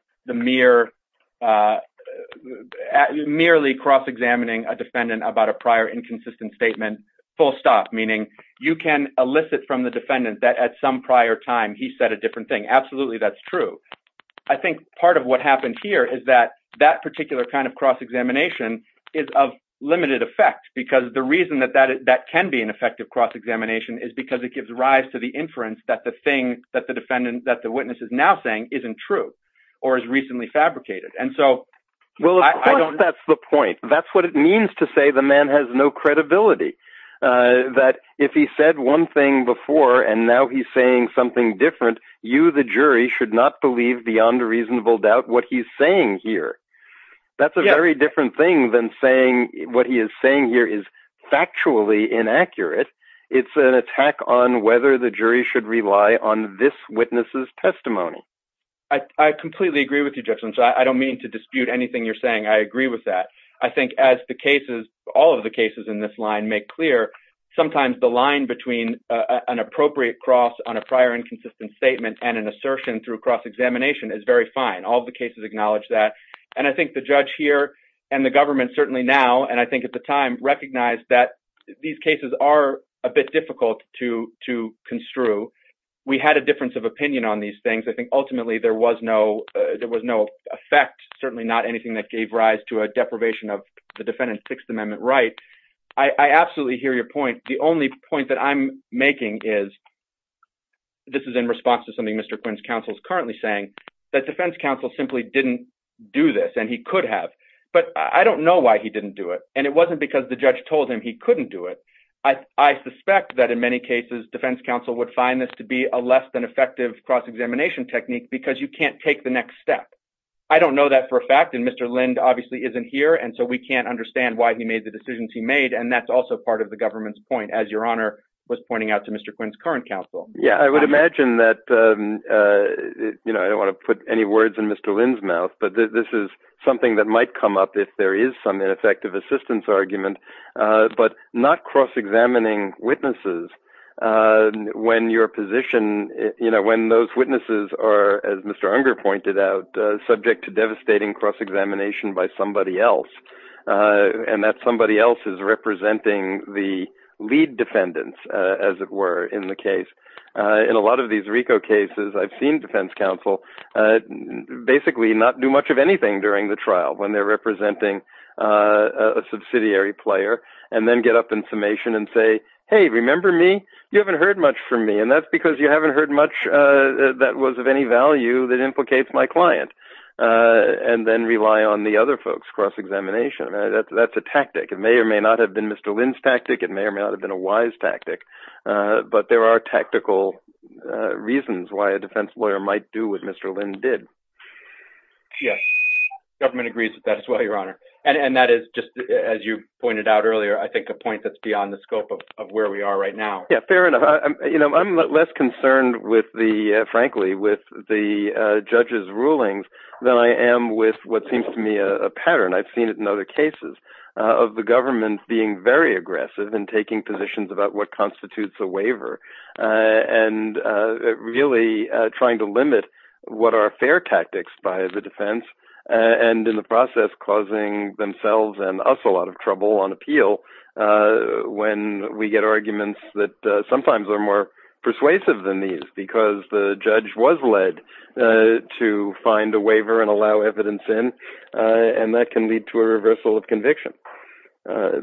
merely cross-examining a defendant about a prior inconsistent statement, full stop. Meaning you can elicit from the defendant that at some prior time, he said a different thing. Absolutely, that's true. I think part of what is of limited effect, because the reason that that can be an effective cross-examination is because it gives rise to the inference that the thing that the witness is now saying isn't true or is recently fabricated. That's the point. That's what it means to say the man has no credibility. That if he said one thing before and now he's saying something different, you the jury should not believe beyond a reasonable doubt what he's saying here. That's a very different thing than saying what he is saying here is factually inaccurate. It's an attack on whether the jury should rely on this witness's testimony. I completely agree with you, Jefferson. I don't mean to dispute anything you're saying. I agree with that. I think as all of the cases in this line make clear, sometimes the line between an appropriate cross on a prior inconsistent statement and an assertion through cross-examination is very all of the cases acknowledge that. I think the judge here and the government certainly now, and I think at the time, recognized that these cases are a bit difficult to construe. We had a difference of opinion on these things. I think ultimately there was no effect, certainly not anything that gave rise to a deprivation of the defendant's Sixth Amendment right. I absolutely hear your point. The only point that I'm making is, this is in response to something Mr. Quinn's counsel is currently saying, that defense counsel simply didn't do this, and he could have, but I don't know why he didn't do it. It wasn't because the judge told him he couldn't do it. I suspect that in many cases, defense counsel would find this to be a less than effective cross-examination technique because you can't take the next step. I don't know that for a fact, and Mr. Lind obviously isn't here, and so we can't understand why he made the decisions he made. That's also part of the government's point, as your honor was pointing out to Mr. Quinn's current counsel. I would imagine that, I don't want to put any words in Mr. Lind's mouth, but this is something that might come up if there is some effective assistance argument, but not cross-examining witnesses when your position, when those witnesses are, as Mr. Unger pointed out, subject to devastating cross-examination by somebody else, and that somebody else is representing the lead defendants, as it were, in the case. In a lot of these RICO cases, I've seen defense counsel basically not do much of anything during the trial when they're representing a subsidiary player, and then get up in summation and say, hey, remember me? You haven't heard much from me, and that's because you haven't heard much that was of any value that implicates my client, and then rely on the other folks' cross-examination. That's a tactic. It may or may not have been Mr. Lind's tactic. It may or may not have been a wise tactic, but there are tactical reasons why a defense lawyer might do what Mr. Lind did. Yes, government agrees that that's why, your honor, and that is just, as you pointed out earlier, I think a point that's beyond the scope of where we are right now. Fair enough. I'm less concerned, frankly, with the judge's rulings than I am with what seems to me a pattern, I've seen it in other cases, of the government being very aggressive in taking positions about what constitutes a waiver, and really trying to limit what are fair tactics by the defense, and in the process, causing themselves and us a lot of trouble on appeal when we get arguments that sometimes are more persuasive than these, because the judge was led to find a waiver and allow evidence in, and that can lead to a reversal of conviction. I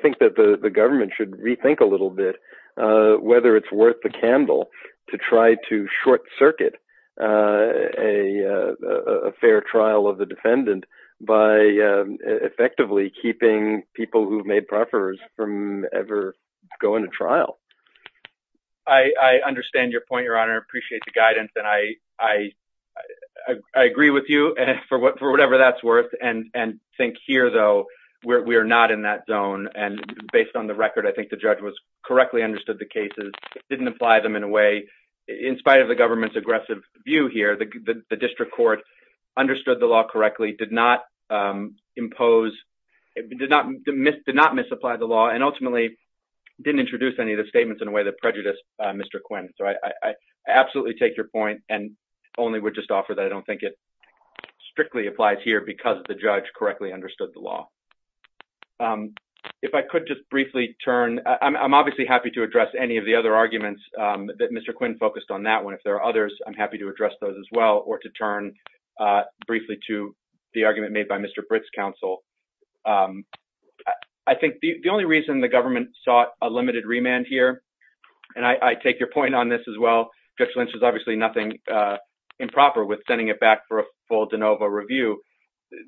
think that the government should rethink a little bit whether it's worth the candle to try to short circuit a fair trial of the defendant by effectively keeping people who've made proffers from ever going to trial. I understand your point, your honor. I appreciate the guidance, and I agree with you for whatever that's worth, and think here, though, we are not in that zone, and based on the record, I think the judge correctly understood the cases, didn't apply them in a way, in spite of the government's aggressive view here, the district court understood the law correctly, did not impose, did not misapply the law, and ultimately didn't introduce any of the statements in a way that prejudiced Mr. Quinn. So I absolutely take your point, and only would just offer that I don't think it strictly applies here because the judge correctly understood the law. If I could just briefly turn, I'm obviously happy to address any of the other arguments that Mr. Quinn focused on that one. If there are others, I'm happy to address those as well, or to turn briefly to the argument made by Mr. Britt's counsel. I think the only reason the government sought a limited remand here, and I take your point on this as well, Judge Lynch has obviously nothing improper with sending it back for a full de novo review.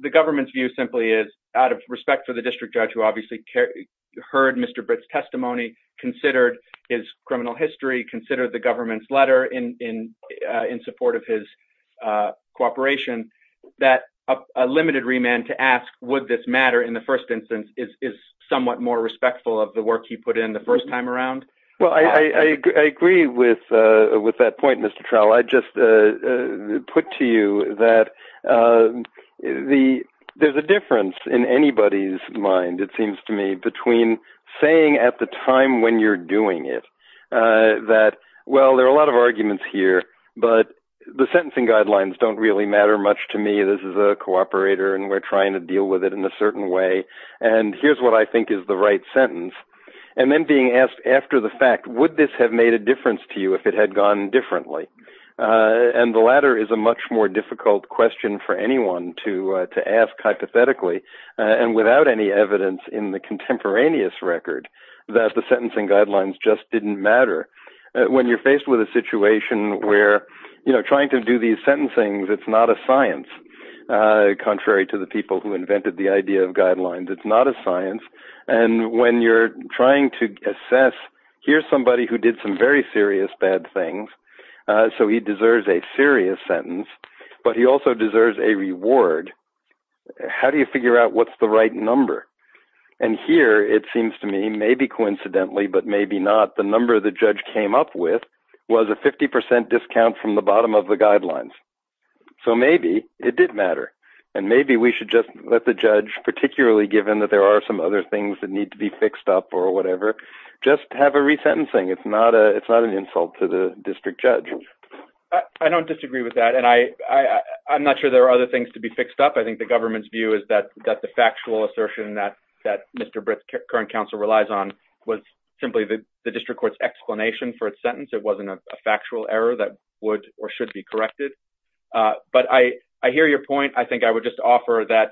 The government's view simply is out of respect for the district judge who obviously heard Mr. Britt's testimony, considered his criminal history, considered the government's letter in support of his cooperation, that a limited remand to ask would this matter in the first instance is somewhat more respectful of the work he put in the first time around. Well, I agree with that point, Mr. Trowell. I just put to you that there's a difference in anybody's mind, it seems to me, between saying at the time when you're doing it that, well, there are a lot of arguments here, but the sentencing guidelines don't really matter much to me. This is a cooperator and we're trying to deal with it in a certain way, and here's what I think is the right sentence, and then being asked after the fact, would this have made a difference to you if it had gone differently? The latter is a much more difficult question for anyone to ask hypothetically and without any evidence in the contemporaneous record that the sentencing guidelines just didn't matter. When you're faced with a situation where trying to do these sentencing, it's not a science, contrary to the people who invented the idea of guidelines, it's not a science, and when you're trying to assess, here's somebody who did some very bad things, so he deserves a serious sentence, but he also deserves a reward. How do you figure out what's the right number? Here, it seems to me, maybe coincidentally, but maybe not, the number the judge came up with was a 50% discount from the bottom of the guidelines. Maybe it did matter, and maybe we should just let the judge, particularly given that there are some other things that need to be fixed up or whatever, just have a resentencing. It's not an insult to the district judge. I don't disagree with that, and I'm not sure there are other things to be fixed up. I think the government's view is that the factual assertion that Mr. Britt's current counsel relies on was simply the district court's explanation for its sentence. It wasn't a factual error that would or should be corrected, but I hear your point. I think I would just offer that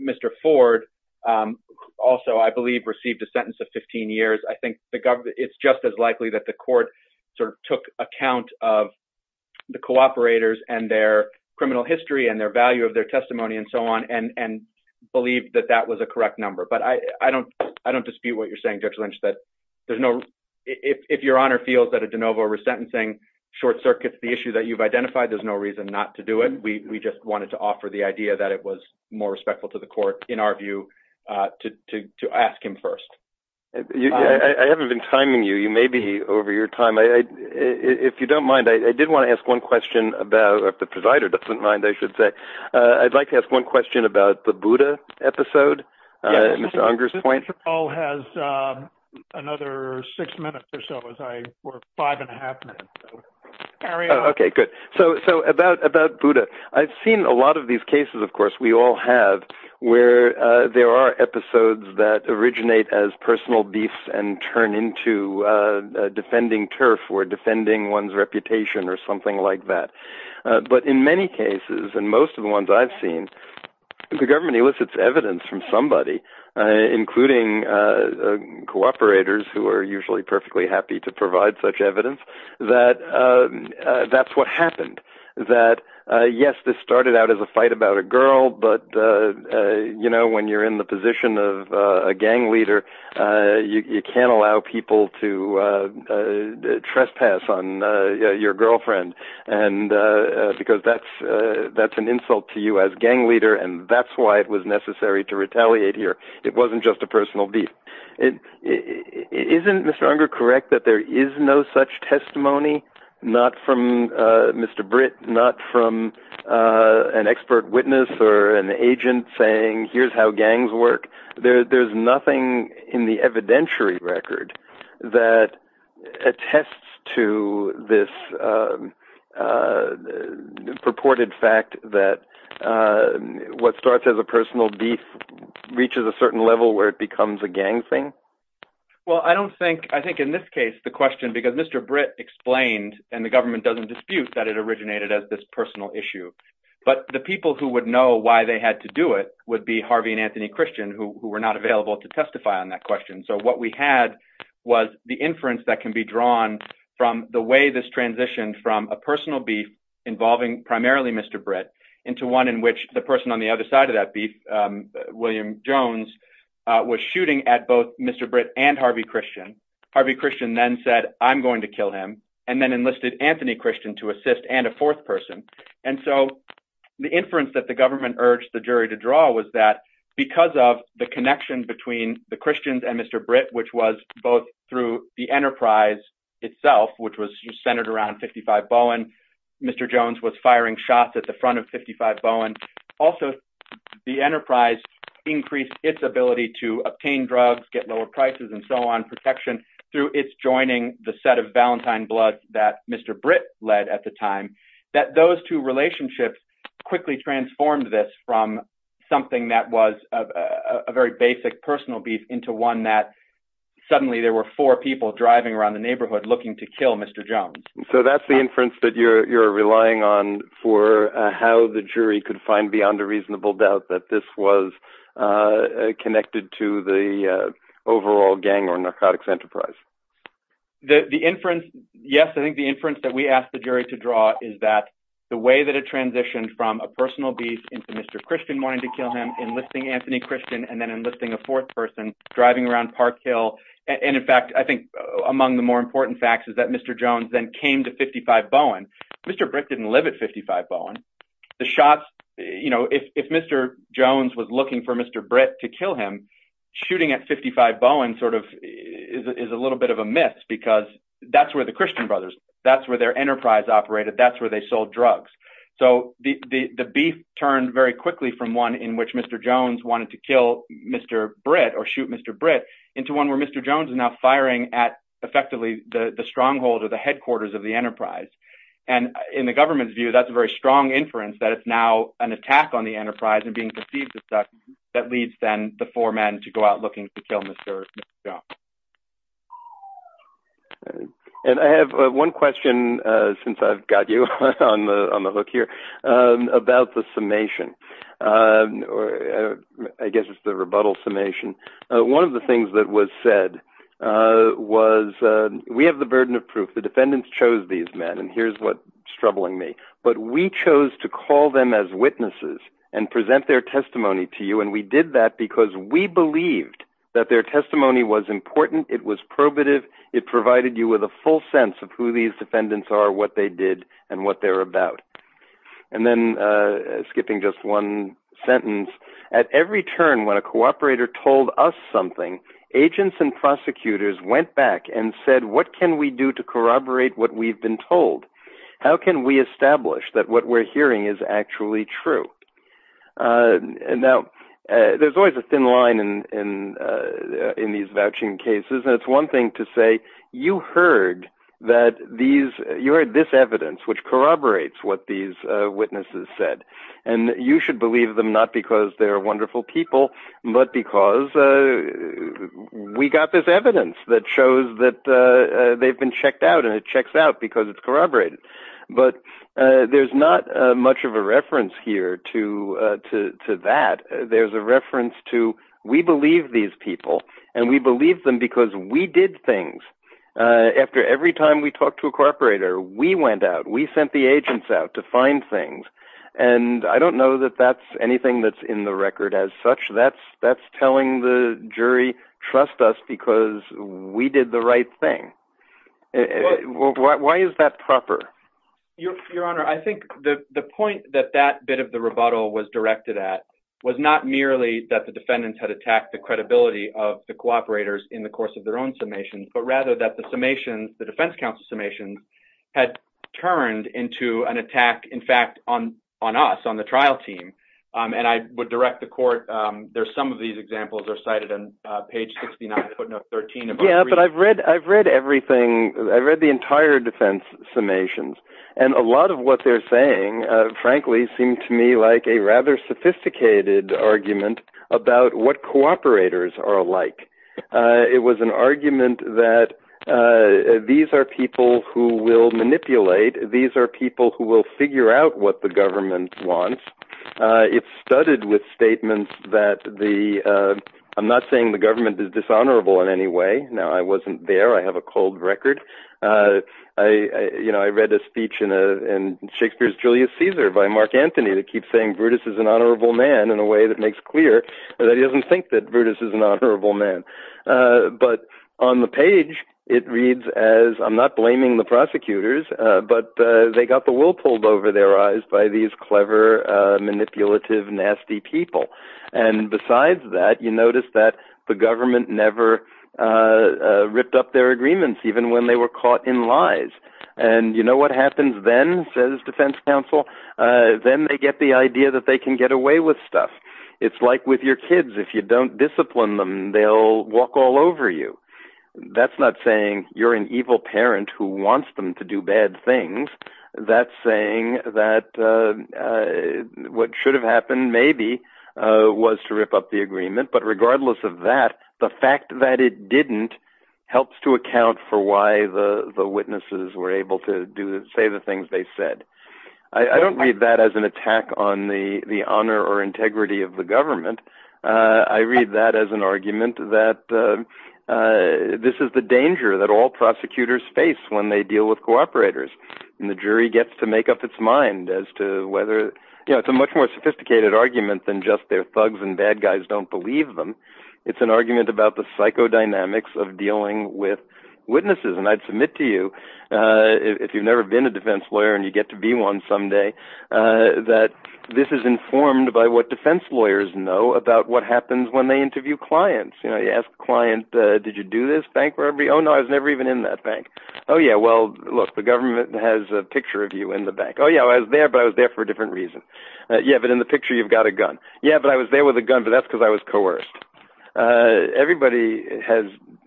Mr. Ford also, I believe, received a sentence of 15 years. I think it's just as likely that the court took account of the cooperators and their criminal history, and their value of their testimony, and so on, and believed that that was a correct number, but I don't dispute what you're saying, Judge Lynch, that if your honor feels that a de novo resentencing short circuits the issue that you've identified, there's no reason not to do it. We just wanted to offer the idea that it was more respectful to the court, in our view, to ask him first. I haven't been timing you. You may be over your time. If you don't mind, I did want to ask one question about, if the presider doesn't mind, I should say. I'd like to ask one question about the Buddha episode, Mr. Unger's point. This call has another six minutes or so, as I, or five and a half minutes, so carry on. Okay, good. So, about Buddha, I've seen a lot of these cases, of course, we all have, where there are episodes that originate as personal beefs and turn into defending turf, or defending one's reputation, or something like that, but in many cases, and most of the ones I've seen, the government elicits evidence from somebody, including cooperators, who are usually perfectly happy to provide such evidence, that that's what happened. Yes, this started out as a fight about a girl, but when you're in the position of a gang leader, you can't allow people to trespass on your girlfriend, because that's an insult to you as a gang leader, and that's why it was necessary to retaliate here. It wasn't just a personal beef. Isn't Mr. Unger correct that there is no such testimony, not from Mr. Britt, not from an expert witness, or an agent saying, here's how gangs work? There's nothing in the evidentiary record that attests to this purported fact that what starts as a personal beef reaches a certain level where it becomes a gang thing? Well, I don't think, I think in this case, the question, because Mr. Britt explained, and the government doesn't dispute, that it originated as this personal issue, but the people who would know why they had to do it would be Harvey and Anthony Christian, who were not available to testify on that question, so what we had was the inference that can be drawn from the way this transitioned from a personal beef involving primarily Mr. Britt into one in which the person on the other side of that beef, William Jones, was shooting at both Mr. Britt and Harvey Christian. Harvey Christian then said, I'm going to kill him, and then enlisted Anthony Christian to assist, and a fourth person, and so the inference that the government urged the jury to draw was that because of the connection between the Christians and Mr. Britt, which was both through the enterprise itself, which was centered around 55 Bowen, Mr. Jones was firing shots at the front of 55 Bowen, also the enterprise increased its ability to obtain drugs, get lower prices, and so on, protection through its joining the set of Valentine Bloods that Mr. Britt led at the time, that those two relationships quickly transformed this from something that was a very basic personal beef into one that suddenly there were four people driving around the neighborhood looking to kill Mr. Jones. So that's the inference that you're relying on for how the jury could find beyond a reasonable doubt that this was connected to the overall gang or narcotics enterprise? The inference, yes, I think the inference that we asked the jury to draw is that the way that it transitioned from a personal beef into Mr. Christian wanting to kill him, enlisting Anthony Christian, and then enlisting a fourth person driving around Park Hill, and in fact, I think among the more people that Mr. Jones then came to 55 Bowen, Mr. Britt didn't live at 55 Bowen. The shots, you know, if Mr. Jones was looking for Mr. Britt to kill him, shooting at 55 Bowen sort of is a little bit of a myth because that's where the Christian Brothers, that's where their enterprise operated, that's where they sold drugs. So the beef turned very quickly from one in which Mr. Jones wanted to kill Mr. Britt or shoot Mr. Britt into one where Mr. Jones is now firing at effectively the stronghold or the headquarters of the enterprise. And in the government's view, that's a very strong inference that it's now an attack on the enterprise and being perceived as such that leads then the four men to go out looking to kill Mr. Jones. And I have one question since I've got you on the on the hook here about the summation or I guess it's the rebuttal summation. One of the things that was said was we have the burden of proof. The defendants chose these men and here's what's troubling me. But we chose to call them as witnesses and present their testimony to you. And we did that because we believed that their testimony was important. It was probative. It provided you with a full sense of who these defendants are, what they did and what they're about. And then skipping just one sentence, at every turn when a cooperator told us something, agents and prosecutors went back and said, what can we do to corroborate what we've been told? How can we establish that what we're hearing is actually true? And now, there's always a thin line in these vouching cases. That's one thing to say, you heard this evidence which corroborates what these witnesses said. You should believe them not because they're wonderful people, but because we got this evidence that shows that they've been checked out and it checks out because it's corroborated. But there's not much of a reference here to that. There's a reference to we believe these people and we believe them because we did things. After every time we talked to a cooperator, we went out, we sent the agents out to find things. And I don't know that that's anything that's in the record as such. That's telling the jury, trust us because we did the right thing. Why is that proper? Your Honor, I think the point that that bit of the rebuttal was directed at was not merely that the defendants had attacked the credibility of the cooperators in the course of their own summations, but rather that the defense counsel's summations had turned into an attack, in fact, on us, on the trial team. And I would direct the court, there's some of these examples are cited on page 69, footnote 13. Yeah, but I've read everything. I read the entire defense summations. And a lot of what they're saying, frankly, seemed to me like a rather sophisticated argument about what these are people who will manipulate. These are people who will figure out what the government wants. It started with statements that I'm not saying the government is dishonorable in any way. Now, I wasn't there. I have a cold record. I read a speech in Shakespeare's Julius Caesar by Mark Anthony that keeps saying Brutus is an honorable man in a way that makes clear that he doesn't think that Brutus is an honorable man. But on the page, it reads as I'm not blaming the prosecutors, but they got the wool pulled over their eyes by these clever, manipulative, nasty people. And besides that, you notice that the government never ripped up their agreements, even when they were caught in lies. And you know what happens then says defense counsel, then they get the idea that they can get away with stuff. It's like with your kids. If you don't discipline them, they'll walk all over you. That's not saying you're an evil parent who wants them to do bad things. That's saying that what should have happened maybe was to rip up the agreement. But regardless of that, the fact that it didn't helps to account for why the witnesses were able to say the things they said. I don't read that as an attack on the honor or integrity of the government. I read that as an argument that this is the danger that all prosecutors face when they deal with cooperators. The jury gets to make up its mind as to whether it's a much more sophisticated argument than just their thugs and bad guys don't believe them. It's an argument about the psychodynamics of dealing with witnesses. I'd submit to you, if you've never been a defense lawyer and you get to be one someday, that this is informed by what defense lawyers know about what happens when they interview clients. You ask a client, did you do this bank robbery? Oh no, I was never even in that bank. Oh yeah, well look, the government has a picture of you in the bank. Oh yeah, I was there, but I was there for a different reason. Yeah, but in the picture, you've got a gun. Yeah, but I was there with a gun, but that's because I was a lawyer.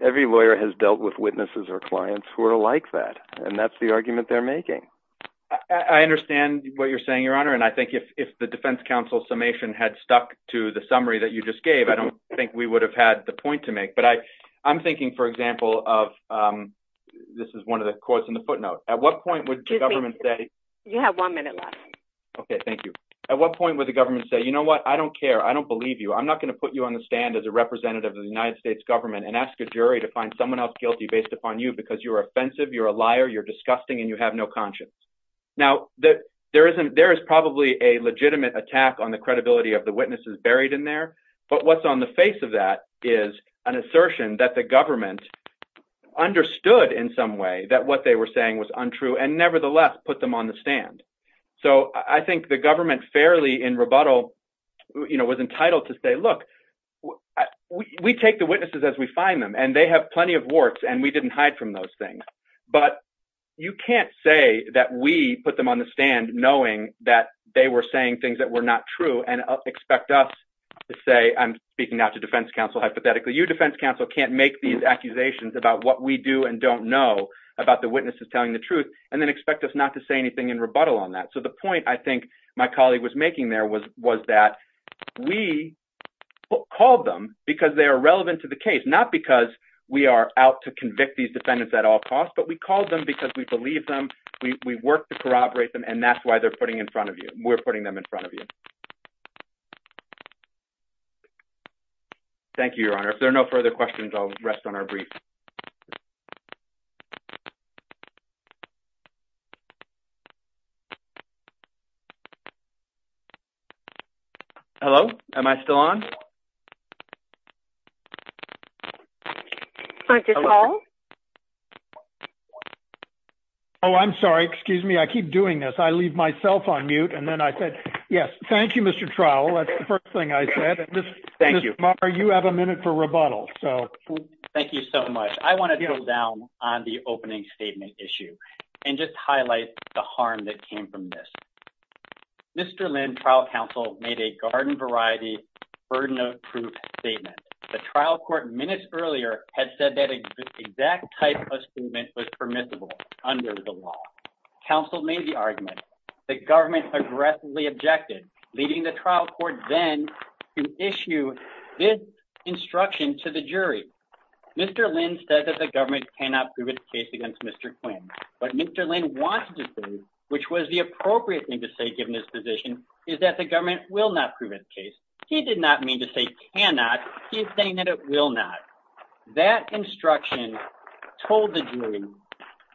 Every lawyer has dealt with witnesses or clients who are like that, and that's the argument they're making. I understand what you're saying, Your Honor, and I think if the defense counsel's summation had stuck to the summary that you just gave, I don't think we would have had the point to make. But I'm thinking, for example, of, this is one of the courts in the footnote. At what point would the government say- You have one minute left. Okay, thank you. At what point would the government say, I don't care. I don't believe you. I'm not going to put you on the stand as a representative of the United States government and ask a jury to find someone else guilty based upon you because you're offensive, you're a liar, you're disgusting, and you have no conscience. Now, there is probably a legitimate attack on the credibility of the witnesses buried in there, but what's on the face of that is an assertion that the government understood in some way that what they were saying was untrue and nevertheless put them on the stand. So I think the government fairly in rebuttal was entitled to say, look, we take the witnesses as we find them, and they have plenty of works, and we didn't hide from those things. But you can't say that we put them on the stand knowing that they were saying things that were not true and expect us to say, I'm speaking now to defense counsel hypothetically, you, defense counsel, can't make these accusations about what we do and don't know about the witnesses telling the truth, and then expect us not to say anything in rebuttal on that. So the point I think my colleague was making there was that we called them because they are relevant to the case, not because we are out to convict these defendants at all costs, but we called them because we believe them, we work to corroborate them, and that's why we're putting them in front of you. Thank you, Your Honor. If there are any other questions, I'm going to turn it over to Mr. Trowell. Hello? Am I still on? I'm sorry. Excuse me. I keep doing this. I leave myself on mute, and then I said, yes, thank you, Mr. Trowell. That's the first thing I said. Thank you. You have a minute for rebuttal. Thank you so much. I want to go down on the opening statement issue and just highlight the harm that came from this. Mr. Lynn, trial counsel, made a garden variety burden of proof statement. The trial court minutes earlier had said that exact type of statement was permissible under the law. Counsel made the argument. The government aggressively objected, leading the trial court then to issue this instruction to the jury. Mr. Lynn said that government cannot prove its case against Mr. Quinn, but Mr. Lynn wants to prove, which was the appropriate thing to say given his position, is that the government will not prove its case. He did not mean to say cannot. He is saying that it will not. That instruction told the jury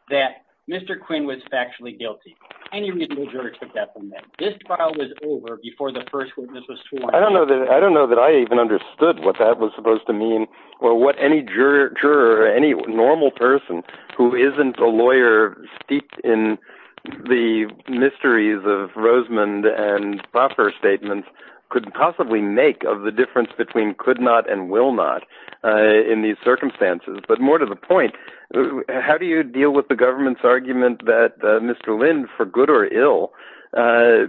that Mr. Quinn was factually guilty. Any reasonable juror took that from them. This trial was over before the first witness was sworn in. I don't know that I even understood what that was supposed to mean or what any juror or any normal person who isn't a lawyer steeped in the mysteries of Rosamond and Buffer statements could possibly make of the difference between could not and will not in these circumstances. More to the point, how do you deal with the government's argument that Mr. Lynn, for good or ill,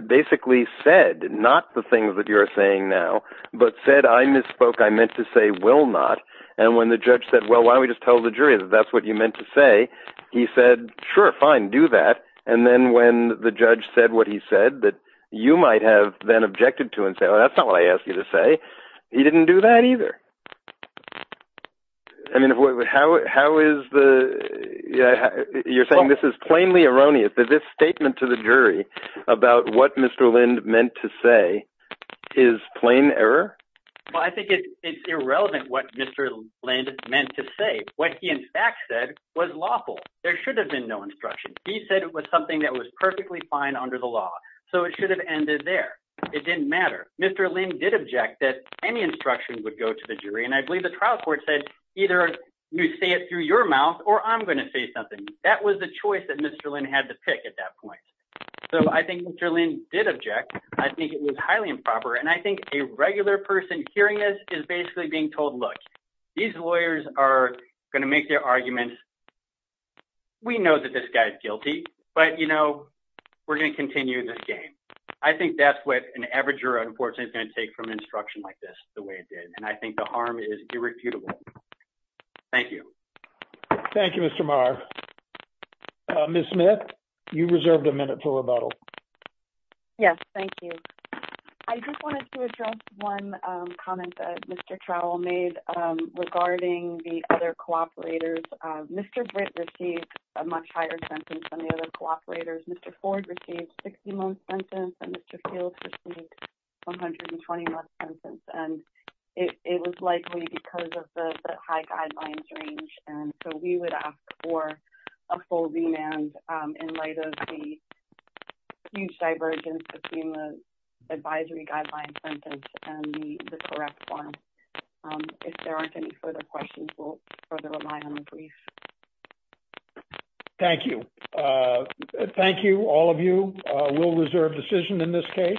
basically said not the things that you're saying now, but said, I misspoke. I meant to say will not. When the judge said, well, why don't we just tell the jury that that's what you meant to say? He said, sure, fine, do that. Then when the judge said what he said that you might have then objected to and say, oh, that's not what I asked you to say, he didn't do that either. You're saying this is plainly erroneous, that this statement to the jury about what Mr. Lynn meant to say is plain error? Well, I think it's irrelevant what Mr. Lynn meant to say. What he in fact said was lawful. There should have been no instruction. He said it was something that was perfectly fine under the law, so it should have ended there. It didn't matter. Mr. Lynn did object that any instruction would go to the jury, and I believe the trial court said either you say it through your mouth or I'm going to say something. That was the choice Mr. Lynn had to pick at that point. I think Mr. Lynn did object. I think it was highly improper, and I think a regular person hearing this is basically being told, look, these lawyers are going to make their arguments. We know that this guy is guilty, but we're going to continue this game. I think that's what an averager, unfortunately, is going to take from an instruction like this the way it did, and I think the harm is irrefutable. Thank you. Thank you, Mr. Maher. Ms. Smith, you reserved a minute for rebuttal. Yes, thank you. I just wanted to address one comment that Mr. Trowell made regarding the other cooperators. Mr. Britt received a much higher sentence than the other cooperators. Mr. Ford received a 60-month sentence, and Mr. Fields received a 120-month sentence, and it was likely because of the high guidelines range. We would ask for a full remand in light of the huge divergence between the advisory guidelines sentence and the correct one. If there aren't any further questions, we'll rely on the brief. Thank you. Thank you, all of you. We'll reserve decision in this case.